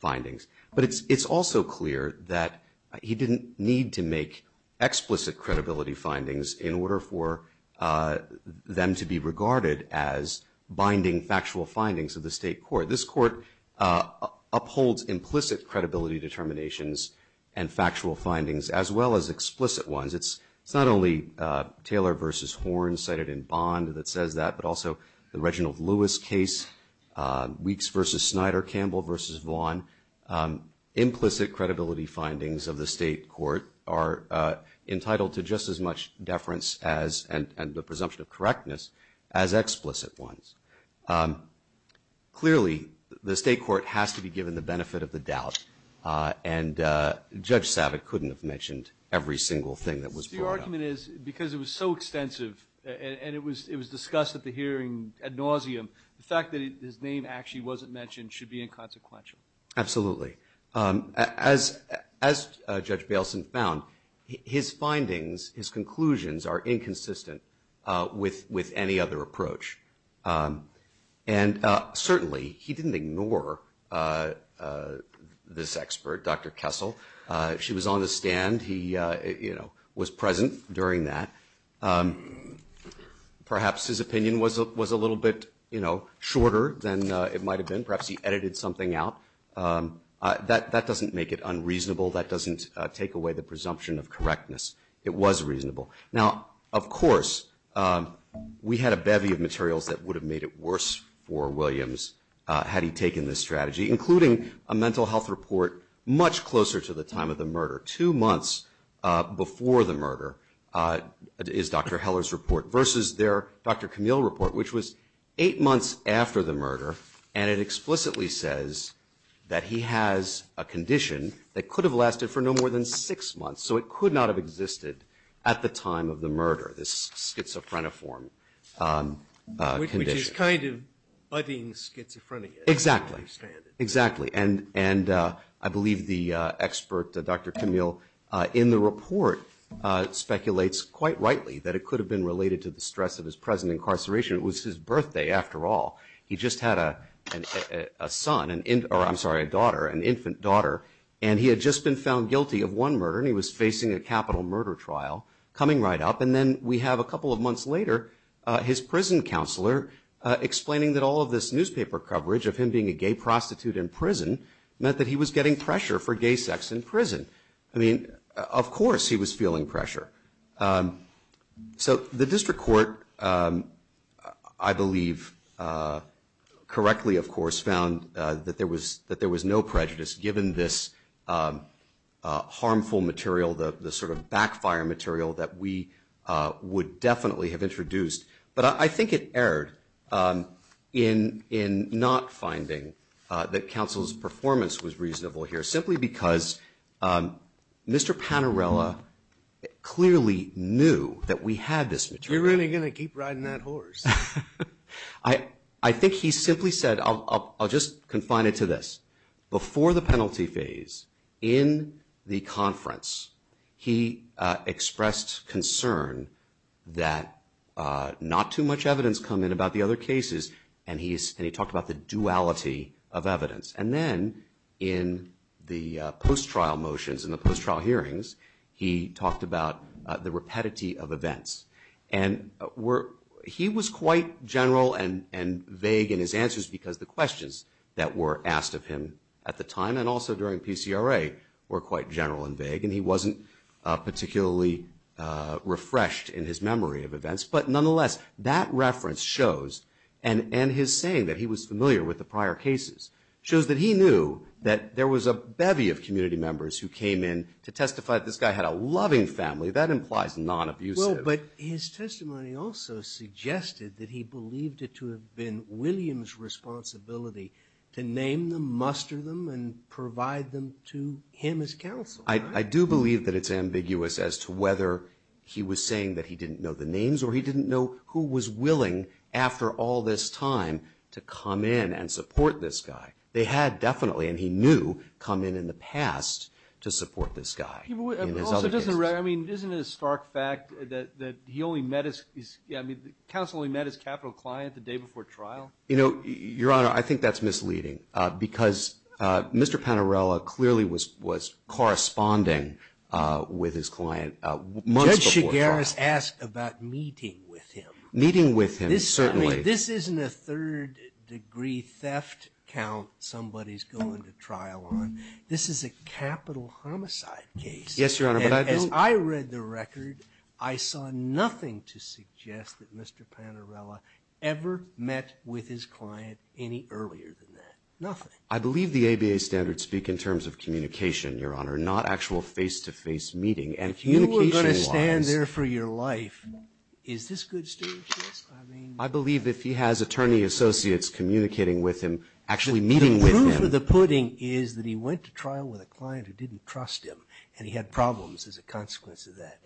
findings. But it's also clear that he didn't need to make explicit credibility findings in order for them to be regarded as binding to the state court. This court upholds implicit credibility determinations and factual findings as well as explicit ones. It's not only Taylor v. Horne, but also the Reginald Lewis case, Weekes v. Snyder, Campbell v. Smith, and other explicit ones. Clearly, the state court has to be given the benefit of the doubt, and Judge Savitt couldn't have mentioned every single thing that was brought up. Your argument is because it was so extensive and it was discussed at the hearing that the fact that his name wasn't mentioned should be inconsequential. Absolutely. As Judge Baleson found, his conclusions are inconsistent with any other approach. Certainly, he didn't ignore this expert, Dr. Kessel. She was on the stand. He was a little bit shorter, perhaps he edited something out. That doesn't make it unreasonable, doesn't take away the presumption of correctness. Of course, we had a bevy of materials that would have made it worse for Williams, including a mental health report much closer to the time of the murder two months before the murder, is Dr. Heller's report, versus their Dr. Camille report, which was eight months after the murder, and it explicitly says that he has a condition that could have lasted for no more than six months, so it could not have existed at the time of the murder, the schizophrenic form. Which is kind of budding schizophrenia. Exactly. And I believe the expert, Dr. Camille, in the report speculates quite rightly that it could have been related to the stress of his present incarceration. It was his birthday after all. He just had a son, I'm sorry, a daughter, an infant daughter, and he had just been found guilty of one murder, and he was facing a capital murder trial coming right up, and then we have a couple of months later his prison counselor explaining that all of this newspaper coverage of him being a gay prostitute in prison meant that he was getting pressure for gay sex in prison. Of course he was feeling pressure. So the district court, I believe, correctly found that there was no prejudice given this harmful material, the sort of backfire material that we would definitely have introduced, but I think it was not finding that counsel's performance was reasonable here, simply because Mr. Panarella clearly knew that we had this material. I think he simply said, I'll just confine it to this, before the penalty phase, in the conference, he expressed concern that not too much evidence came in about the other cases and he talked about the duality of evidence. And then in the post-trial motions and hearings, he talked about the rapidity of events. He was quite general and vague in his answers because the questions that were asked of him at the time and during the were very vague. But nonetheless, that reference shows, and his saying that he was familiar with the prior cases, shows that he knew that there was a bevy of community members who came in to testify that this guy had a loving family. That implies non-abusive. But his testimony also suggested that he believed it to have been William's responsibility to name them, muster them, and provide them to him as counsel. I do believe that it's ambiguous as to whether he was saying that he didn't know the names or he didn't know who was willing after all this time to come in and support this guy. They had definitely, and he knew, come in in the past to support this guy. Isn't it a stark fact that he only met his capital client the day before trial? Your Honor, I think that's misleading because Mr. Panarella clearly was corresponding with his client months before trial. Judge Shigaris asked about meeting with him. Meeting with him, certainly. This isn't a third degree theft count somebody's going to trial on. This is a capital homicide case. Yes, Your Honor. As I read the record, I saw nothing to suggest that Mr. Panarella ever met with his client any earlier than that. Nothing. I believe the ABA standards speak in terms of communication, Your Honor, not actual face-to-face meeting. If you were going to stand there for your life, is this good statistics? I believe that if he has attorney associates communicating with him, actually meeting with him. The proof of the pudding is that he went to trial with a client who didn't trust him and he had problems as a consequence of that.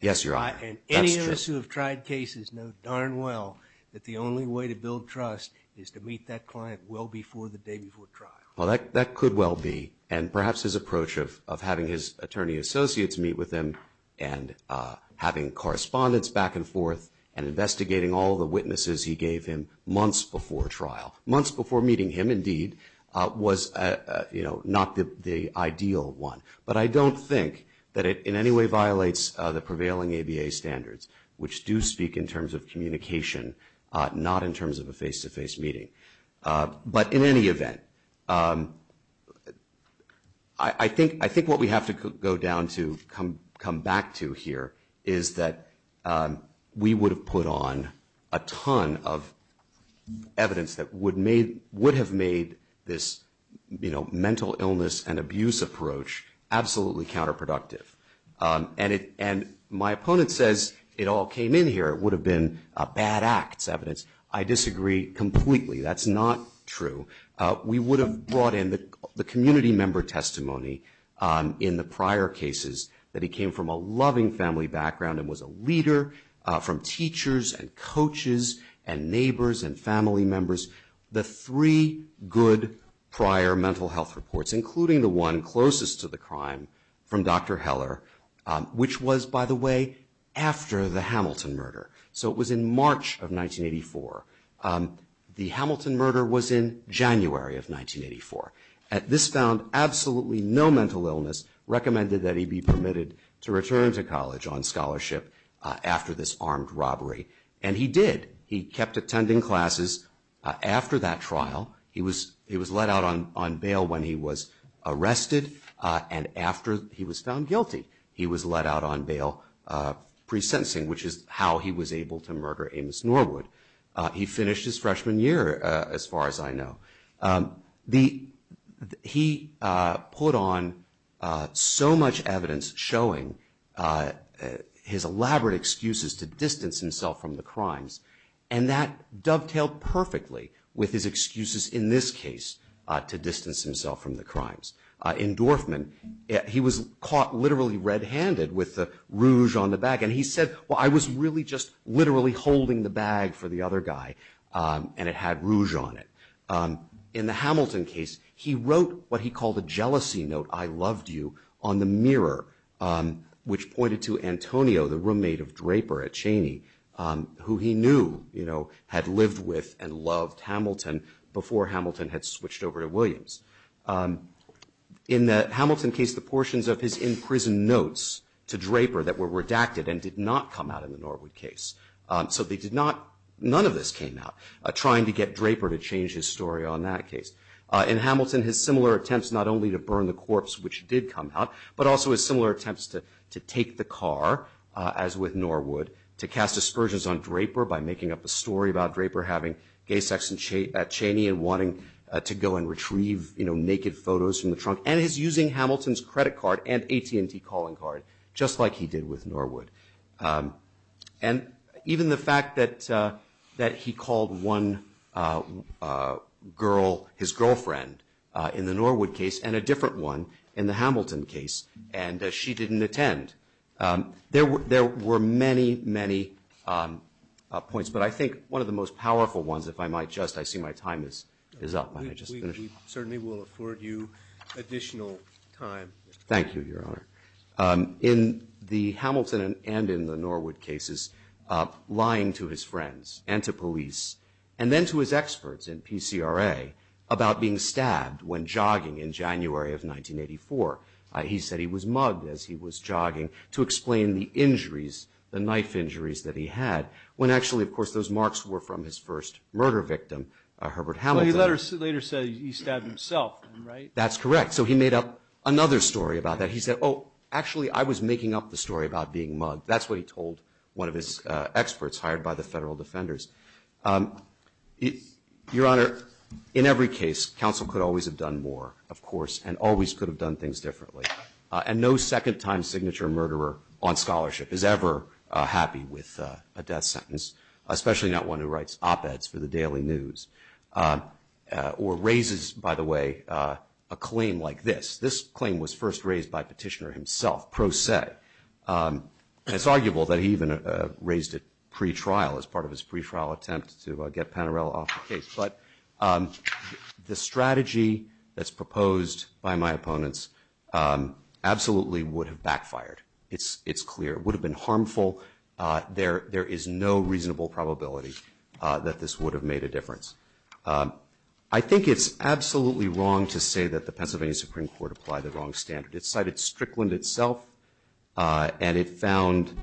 Yes, Your Honor. Any of us who have tried cases know darn well that the ABA standards do speak in terms of communication, not in terms of a face-to-face meeting. But in any event, have to go down to come back to here is that we would have put on a ton of evidence that the ABA standards do speak in terms of evidence that would have made this mental illness and abuse approach absolutely counterproductive. My opponent says it all came in here. It would have been a bad act. I disagree completely. That's not true. We would have brought in the community member testimony in the prior cases that he came from a loving family background and was a leader from teachers and coaches and neighbors and family members. The three good prior mental health reports, including the one closest to the crime from Dr. Heller, which was, by the way, after the murder Heller, there was absolutely no mental illness recommended that he be permitted to return to college on scholarship after this armed robbery. He did. He kept attending classes after that trial. He was let out on bail when he was arrested and after he was found guilty he was let out on bail pre-sentencing, which is how he was able to murder Amos Norwood. He finished his freshman year, as far as I know. He put on so much evidence showing his elaborate excuses to distance himself from the crimes and that dovetailed perfectly with his excuses in this case to distance himself from the crimes. In Dorfman, he was caught literally red-handed with the rouge on the bag and he said, well, I was really just literally holding the bag for the other guy and it had rouge on it. In the Hamilton case, he wrote what he called a jealousy note, I loved you, on the mirror, which pointed to Antonio, the roommate of Draper at Cheney, who he knew had lived with and loved Hamilton before Hamilton had switched over to Williams. In the Hamilton case, the portions of his in-prison notes to Draper that were redacted and did not come out in the Norwood case, none of this came out, trying to get Draper to change his story on that night, trying to cast aspersions on Draper and wanting to go and retrieve naked photos from the trunk and using Hamilton's credit card just like he did with Norwood. Even the fact that he called one girl, his girlfriend, in the Norwood case and a different one in the Hamilton case and she the Norwood case. There were many, many points, but I think one of the most powerful ones, if I might just, I see my time is up. We will afford you additional time. In the Hamilton and Norwood cases, lying to his friends and to police and then to his experts in PCRA about being stabbed when jogging in January of 1984. He said he was mugged to explain the knife injuries he had when those marks were from his first murder victim. He later said he stabbed himself. That's correct. He made up another story. He said I was making up the story about being mugged. That's what he told one of his experts. In every case, counsel could always have done more and always could have done things differently. No second time murderer is ever happy with a death sentence. Or raises, by the way, a claim like this. This claim was first raised by Petitioner himself. It's arguable that he even raised it pre-trial as part of his pre-trial attempt. The strategy that's proposed by my opponents absolutely would have backfired. It would have been harmful. There is no reasonable probability that this would have made a difference. I think it's absolutely wrong to say that the Pennsylvania Supreme Court applied the wrong standard. It cited Strickland itself and found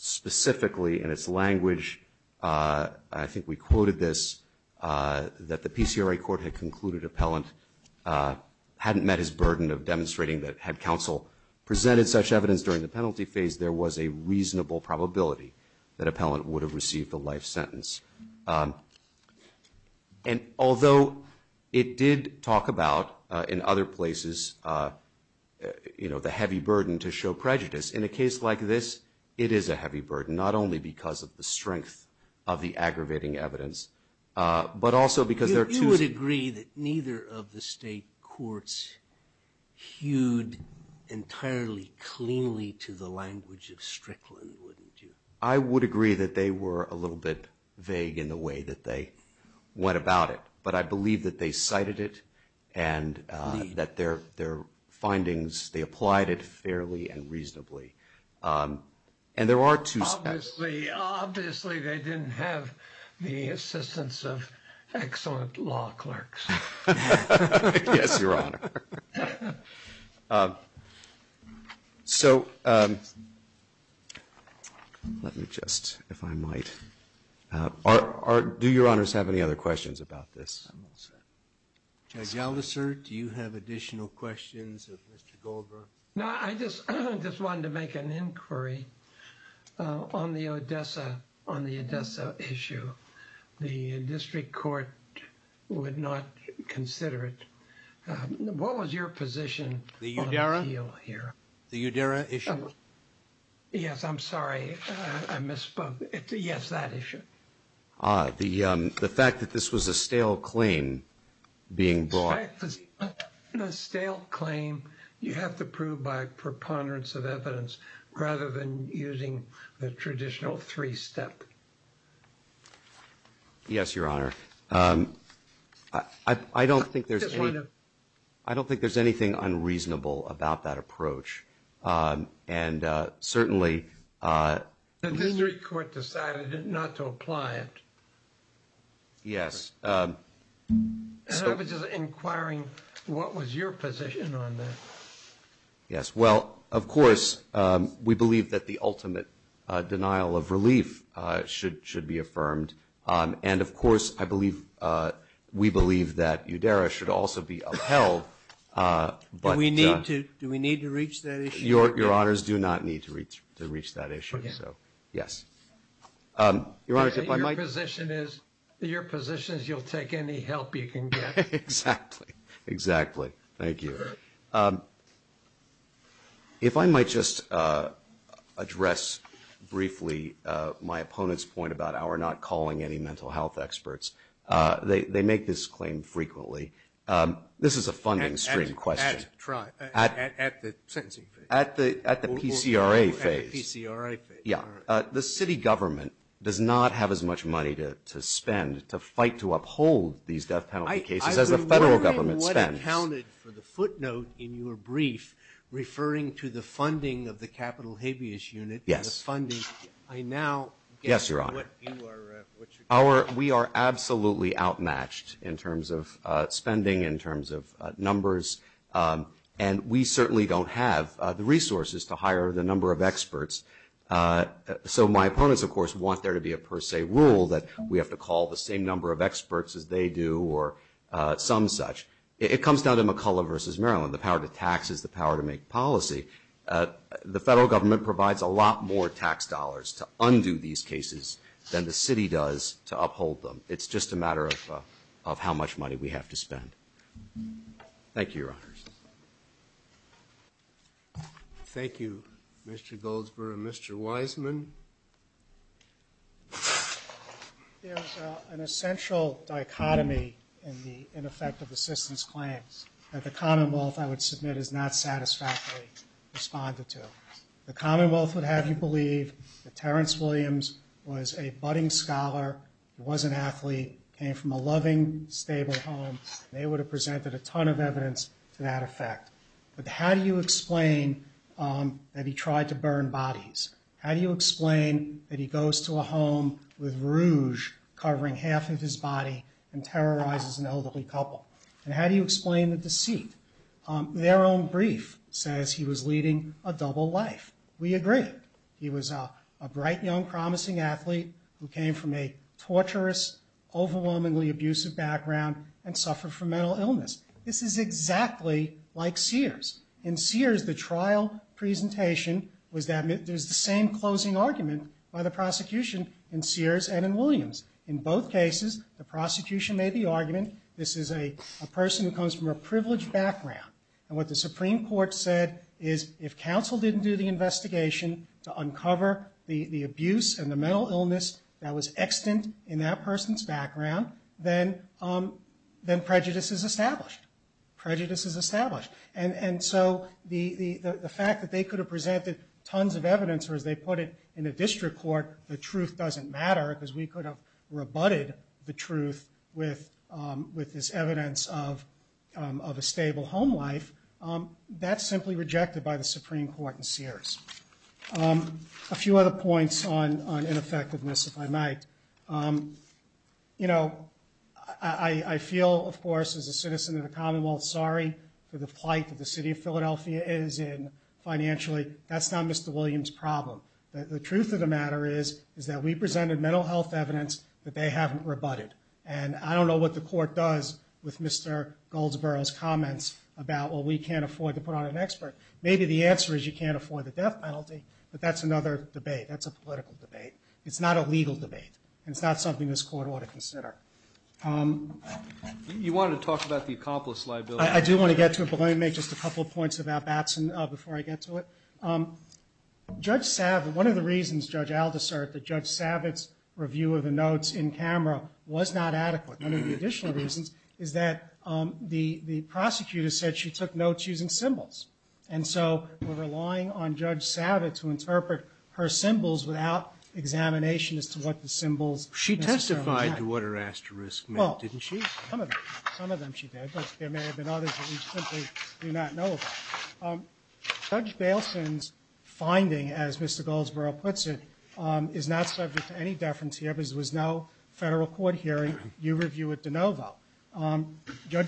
specifically in its language, I think we quoted this, that the PCRA court had concluded appellant hadn't met his burden of demonstrating that there was a reasonable probability that appellant would have received the life sentence. Although it did talk about in other places the heavy burden to show prejudice, in a case like this, it is a heavy burden that the courts hewed entirely cleanly to the language of Strickland. I would agree that they were a little bit vague in the way that they went about it, but I believe that they cited it and that their findings, they applied it fairly and reasonably. And there are two points The first point is that the court did not have the assistance of excellent law clerks. Do your honors have any other questions about this? Judge Aldiser, do you have additional questions? I just wanted to make an inquiry on the Odessa issue. The district court would not consider it. What was your position? The Udera issue? Yes, I'm sorry, I misspoke. Yes, that issue. The fact that this was a stale claim being brought. A stale claim you have to prove by preponderance of evidence rather than using the traditional three-step. Yes, your honors. I don't think there's anything unreasonable about that approach. And certainly the district court decided not to apply it. Yes. I was just inquiring what was your position on that? Yes, well, of course, we believe that the ultimate denial of relief should be affirmed. And, of course, we believe that Udera should also be upheld. Do we need to reach that issue? Your honors, do not need to reach that issue. Your position is you'll take any help you can get. Exactly. Thank you. If I might just address briefly my opponent's point about not calling any mental health experts, they make this claim frequently. This is a funding stream question. At the sentencing phase. At the PCRA phase. At the PCRA phase. Yeah. The city government does not have as much money to spend to fight to uphold these death penalty cases as the federal government does. So what accounted for the footnote in your brief referring to the funding of the capital habeas unit. Yes, your honor. We are absolutely outmatched in terms of spending, in terms of numbers, and we certainly don't have the resources to hire the number of experts. So my opponents, of course, want there to be a per se rule that we have to call the same number of experts as they do. It comes down to McCullough versus Maryland. The federal government provides a lot more tax dollars to undo these cases than the city does to uphold them. It's just a matter of how much money we have to spend. Thank you, your honors. Thank you, Mr. Goldsberg and Mr. Wiseman. There's an essential dichotomy in the ineffective assistance plan that the commonwealth, I would submit, has not satisfactorily responded to. The commonwealth would have you believe that Terence Williams was a budding scholar, was an athlete, came from a loving stable home. They would have presented a ton of evidence to that effect. But how do you explain that he tried to burn bodies? How do you explain that he goes to a home with rouge covering half of his body and terrorizes an elderly couple? And how do you explain the deceit? Their own brief says he was leading a double life. We agree. He was a bright young promising athlete who came from a tortuous overwhelmingly abusive background and suffered from mental illness. This is exactly like Sears. In Sears, the trial presentation was the same closing argument by the prosecution in Sears and in Williams. In both cases, the prosecution made the argument this is a person who comes from a privileged background. And what the Supreme Court said is if counsel didn't do the investigation to uncover the abuse and the mental illness that was extant in that person's background, then prejudice is established. Prejudice is established. And so the fact that they could have presented tons of evidence or as they put it in a district court, the truth doesn't matter because we could have rebutted the truth with evidence of a stable home life, that's simply rejected by the Supreme Court in Sears. A few other points on mental illness. We presented evidence that they haven't rebutted. And I don't know what the court does with Mr. Goldsboro's comments about we can't afford to put on an expert. Maybe the answer is you can't afford the death penalty, but that's another debate. It's not a legal debate. It's not something this court ought to consider. You wanted to talk about the accomplice liability. Let me make a couple points before I get to it. One of the reasons Judge Savage's review was not adequate is that the prosecutor said she took notes using symbols. And so we're relying on Judge Savage to interpret her symbols without examination. She testified to what her asterisks meant. Some of them she did. Judge Baleson's finding, as Mr. Goldsboro puts it, is not subject to any deference. There was no federal court hearing. Judge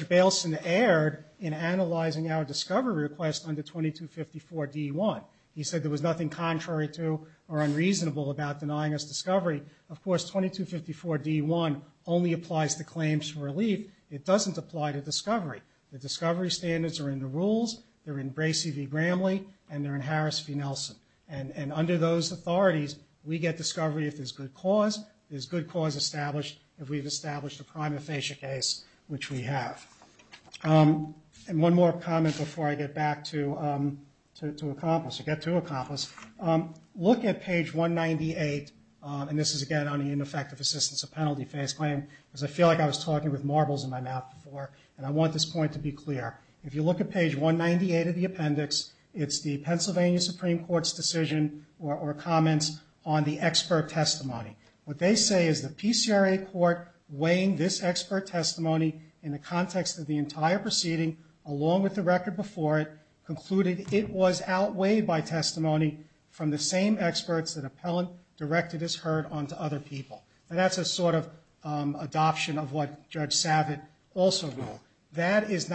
Baleson erred in analyzing our discovery request under 2254D1. He said there was nothing contrary to or unreasonable about denying us discovery. Of course, 2254D1 only applies to claims to relief. It doesn't apply to discovery. The discovery standards are in the rules, they're in Bracey v. Gramley, and they're in Harris v. Nelson. And under those authorities, we get discovery if there's good cause, there's good cause established if we've established a crime of facia case, which we have. And one more comment before I get back to accomplice. Look at page 198, and this is again on the ineffective assistance of penalty phase claim, because I feel like I was talking with marbles in my mouth before, and I want this point to be clear. If you look at page 198 of the appendix, it's the Pennsylvania Supreme Court's decision or comments on the expert testimony. What they say is the PCRA court weighing this expert testimony in the context of the case, and the entire proceeding along with the record before it concluded it was outweighed by testimony from the same experts that appellant directed his heard on to other people. That's a sort of adoption of what judge Smith and Thomas said. It's been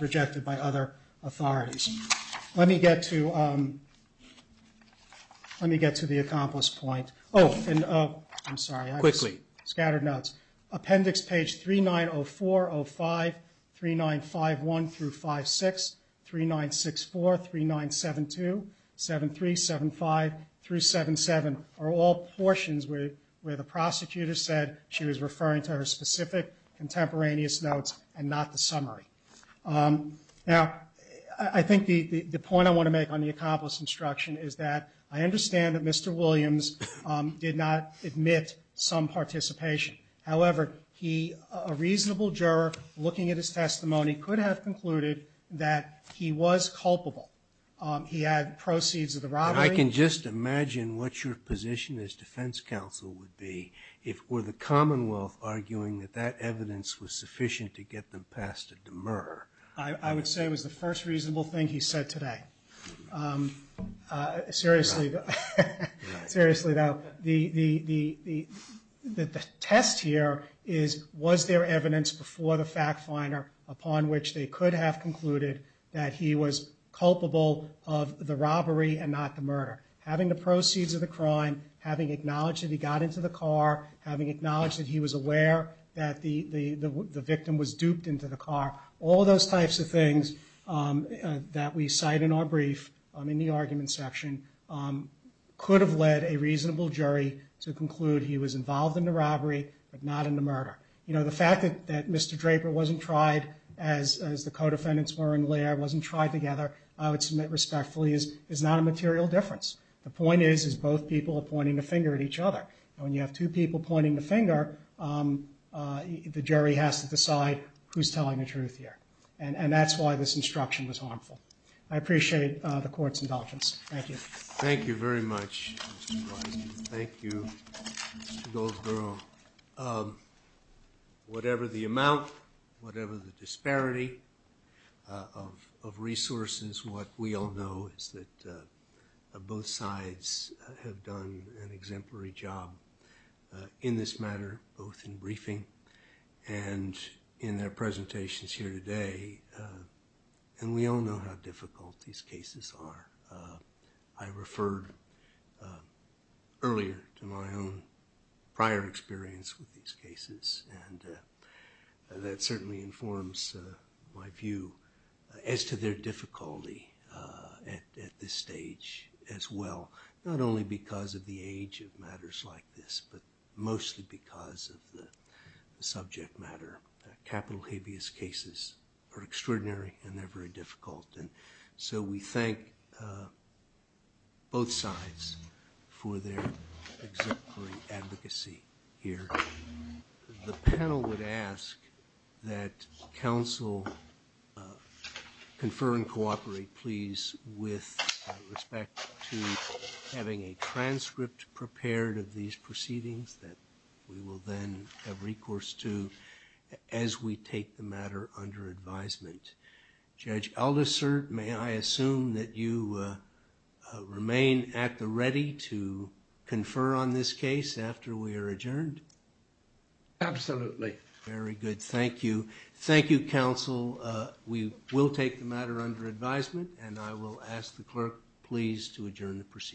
rejected by other authorities. Let me get to the accomplished point. I'm sorry. I have scattered notes. Appendix page 3904, 05, 3951 through 56, 3964, 3972, 7375 through 777 are all the same. I think the point I want to make on the accomplished instruction is that I understand Mr. Williams did not admit some participation. However, a reasonable juror looking at his testimony could have concluded he was culpable. He had proceeds of the robbery. I can just imagine what your position as defense counsel would be if the evidence was sufficient. I would say it was the first reasonable thing he said today. Seriously. The test here is was there evidence before the jury Mr. Williams was culpable of the robbery and not the murder. Having acknowledged he was aware that the victim was duped into the car, all those types of things that we cite in our brief in the argument section could have led a reasonable decision this case. I would submit respectfully it is not a material difference. The point is when you have two people pointing the finger the jury has to decide who is telling the truth here. I appreciate the disparity of resources. What we all know is that both sides have done an exemplary job in this matter both in briefing and in their presentations here today. We all know how difficult these cases are. I referred earlier to my own prior experience with these cases and that certainly informs my view as to their difficulty at this stage as well. Not only because of the age of matters like this but mostly because of the subject matter. Capital habeas cases are extraordinary and very difficult. We thank both sides for their exemplary advocacy here. The panel would ask that counsel confer and cooperate please with respect to having a transcript prepared of these proceedings that we will then have recourse to as we take the matter under advisement. Judge Aldisert, may I assume that you remain at the opportunity to confer on this case after we are adjourned? Absolutely. Very good. Thank you. Thank you, counsel. to adjourn the proceedings. Thank you. Thank you. Thank you. Thank you. Thank you. Thank you. Thank you. Thank you. Thank you. Thank you.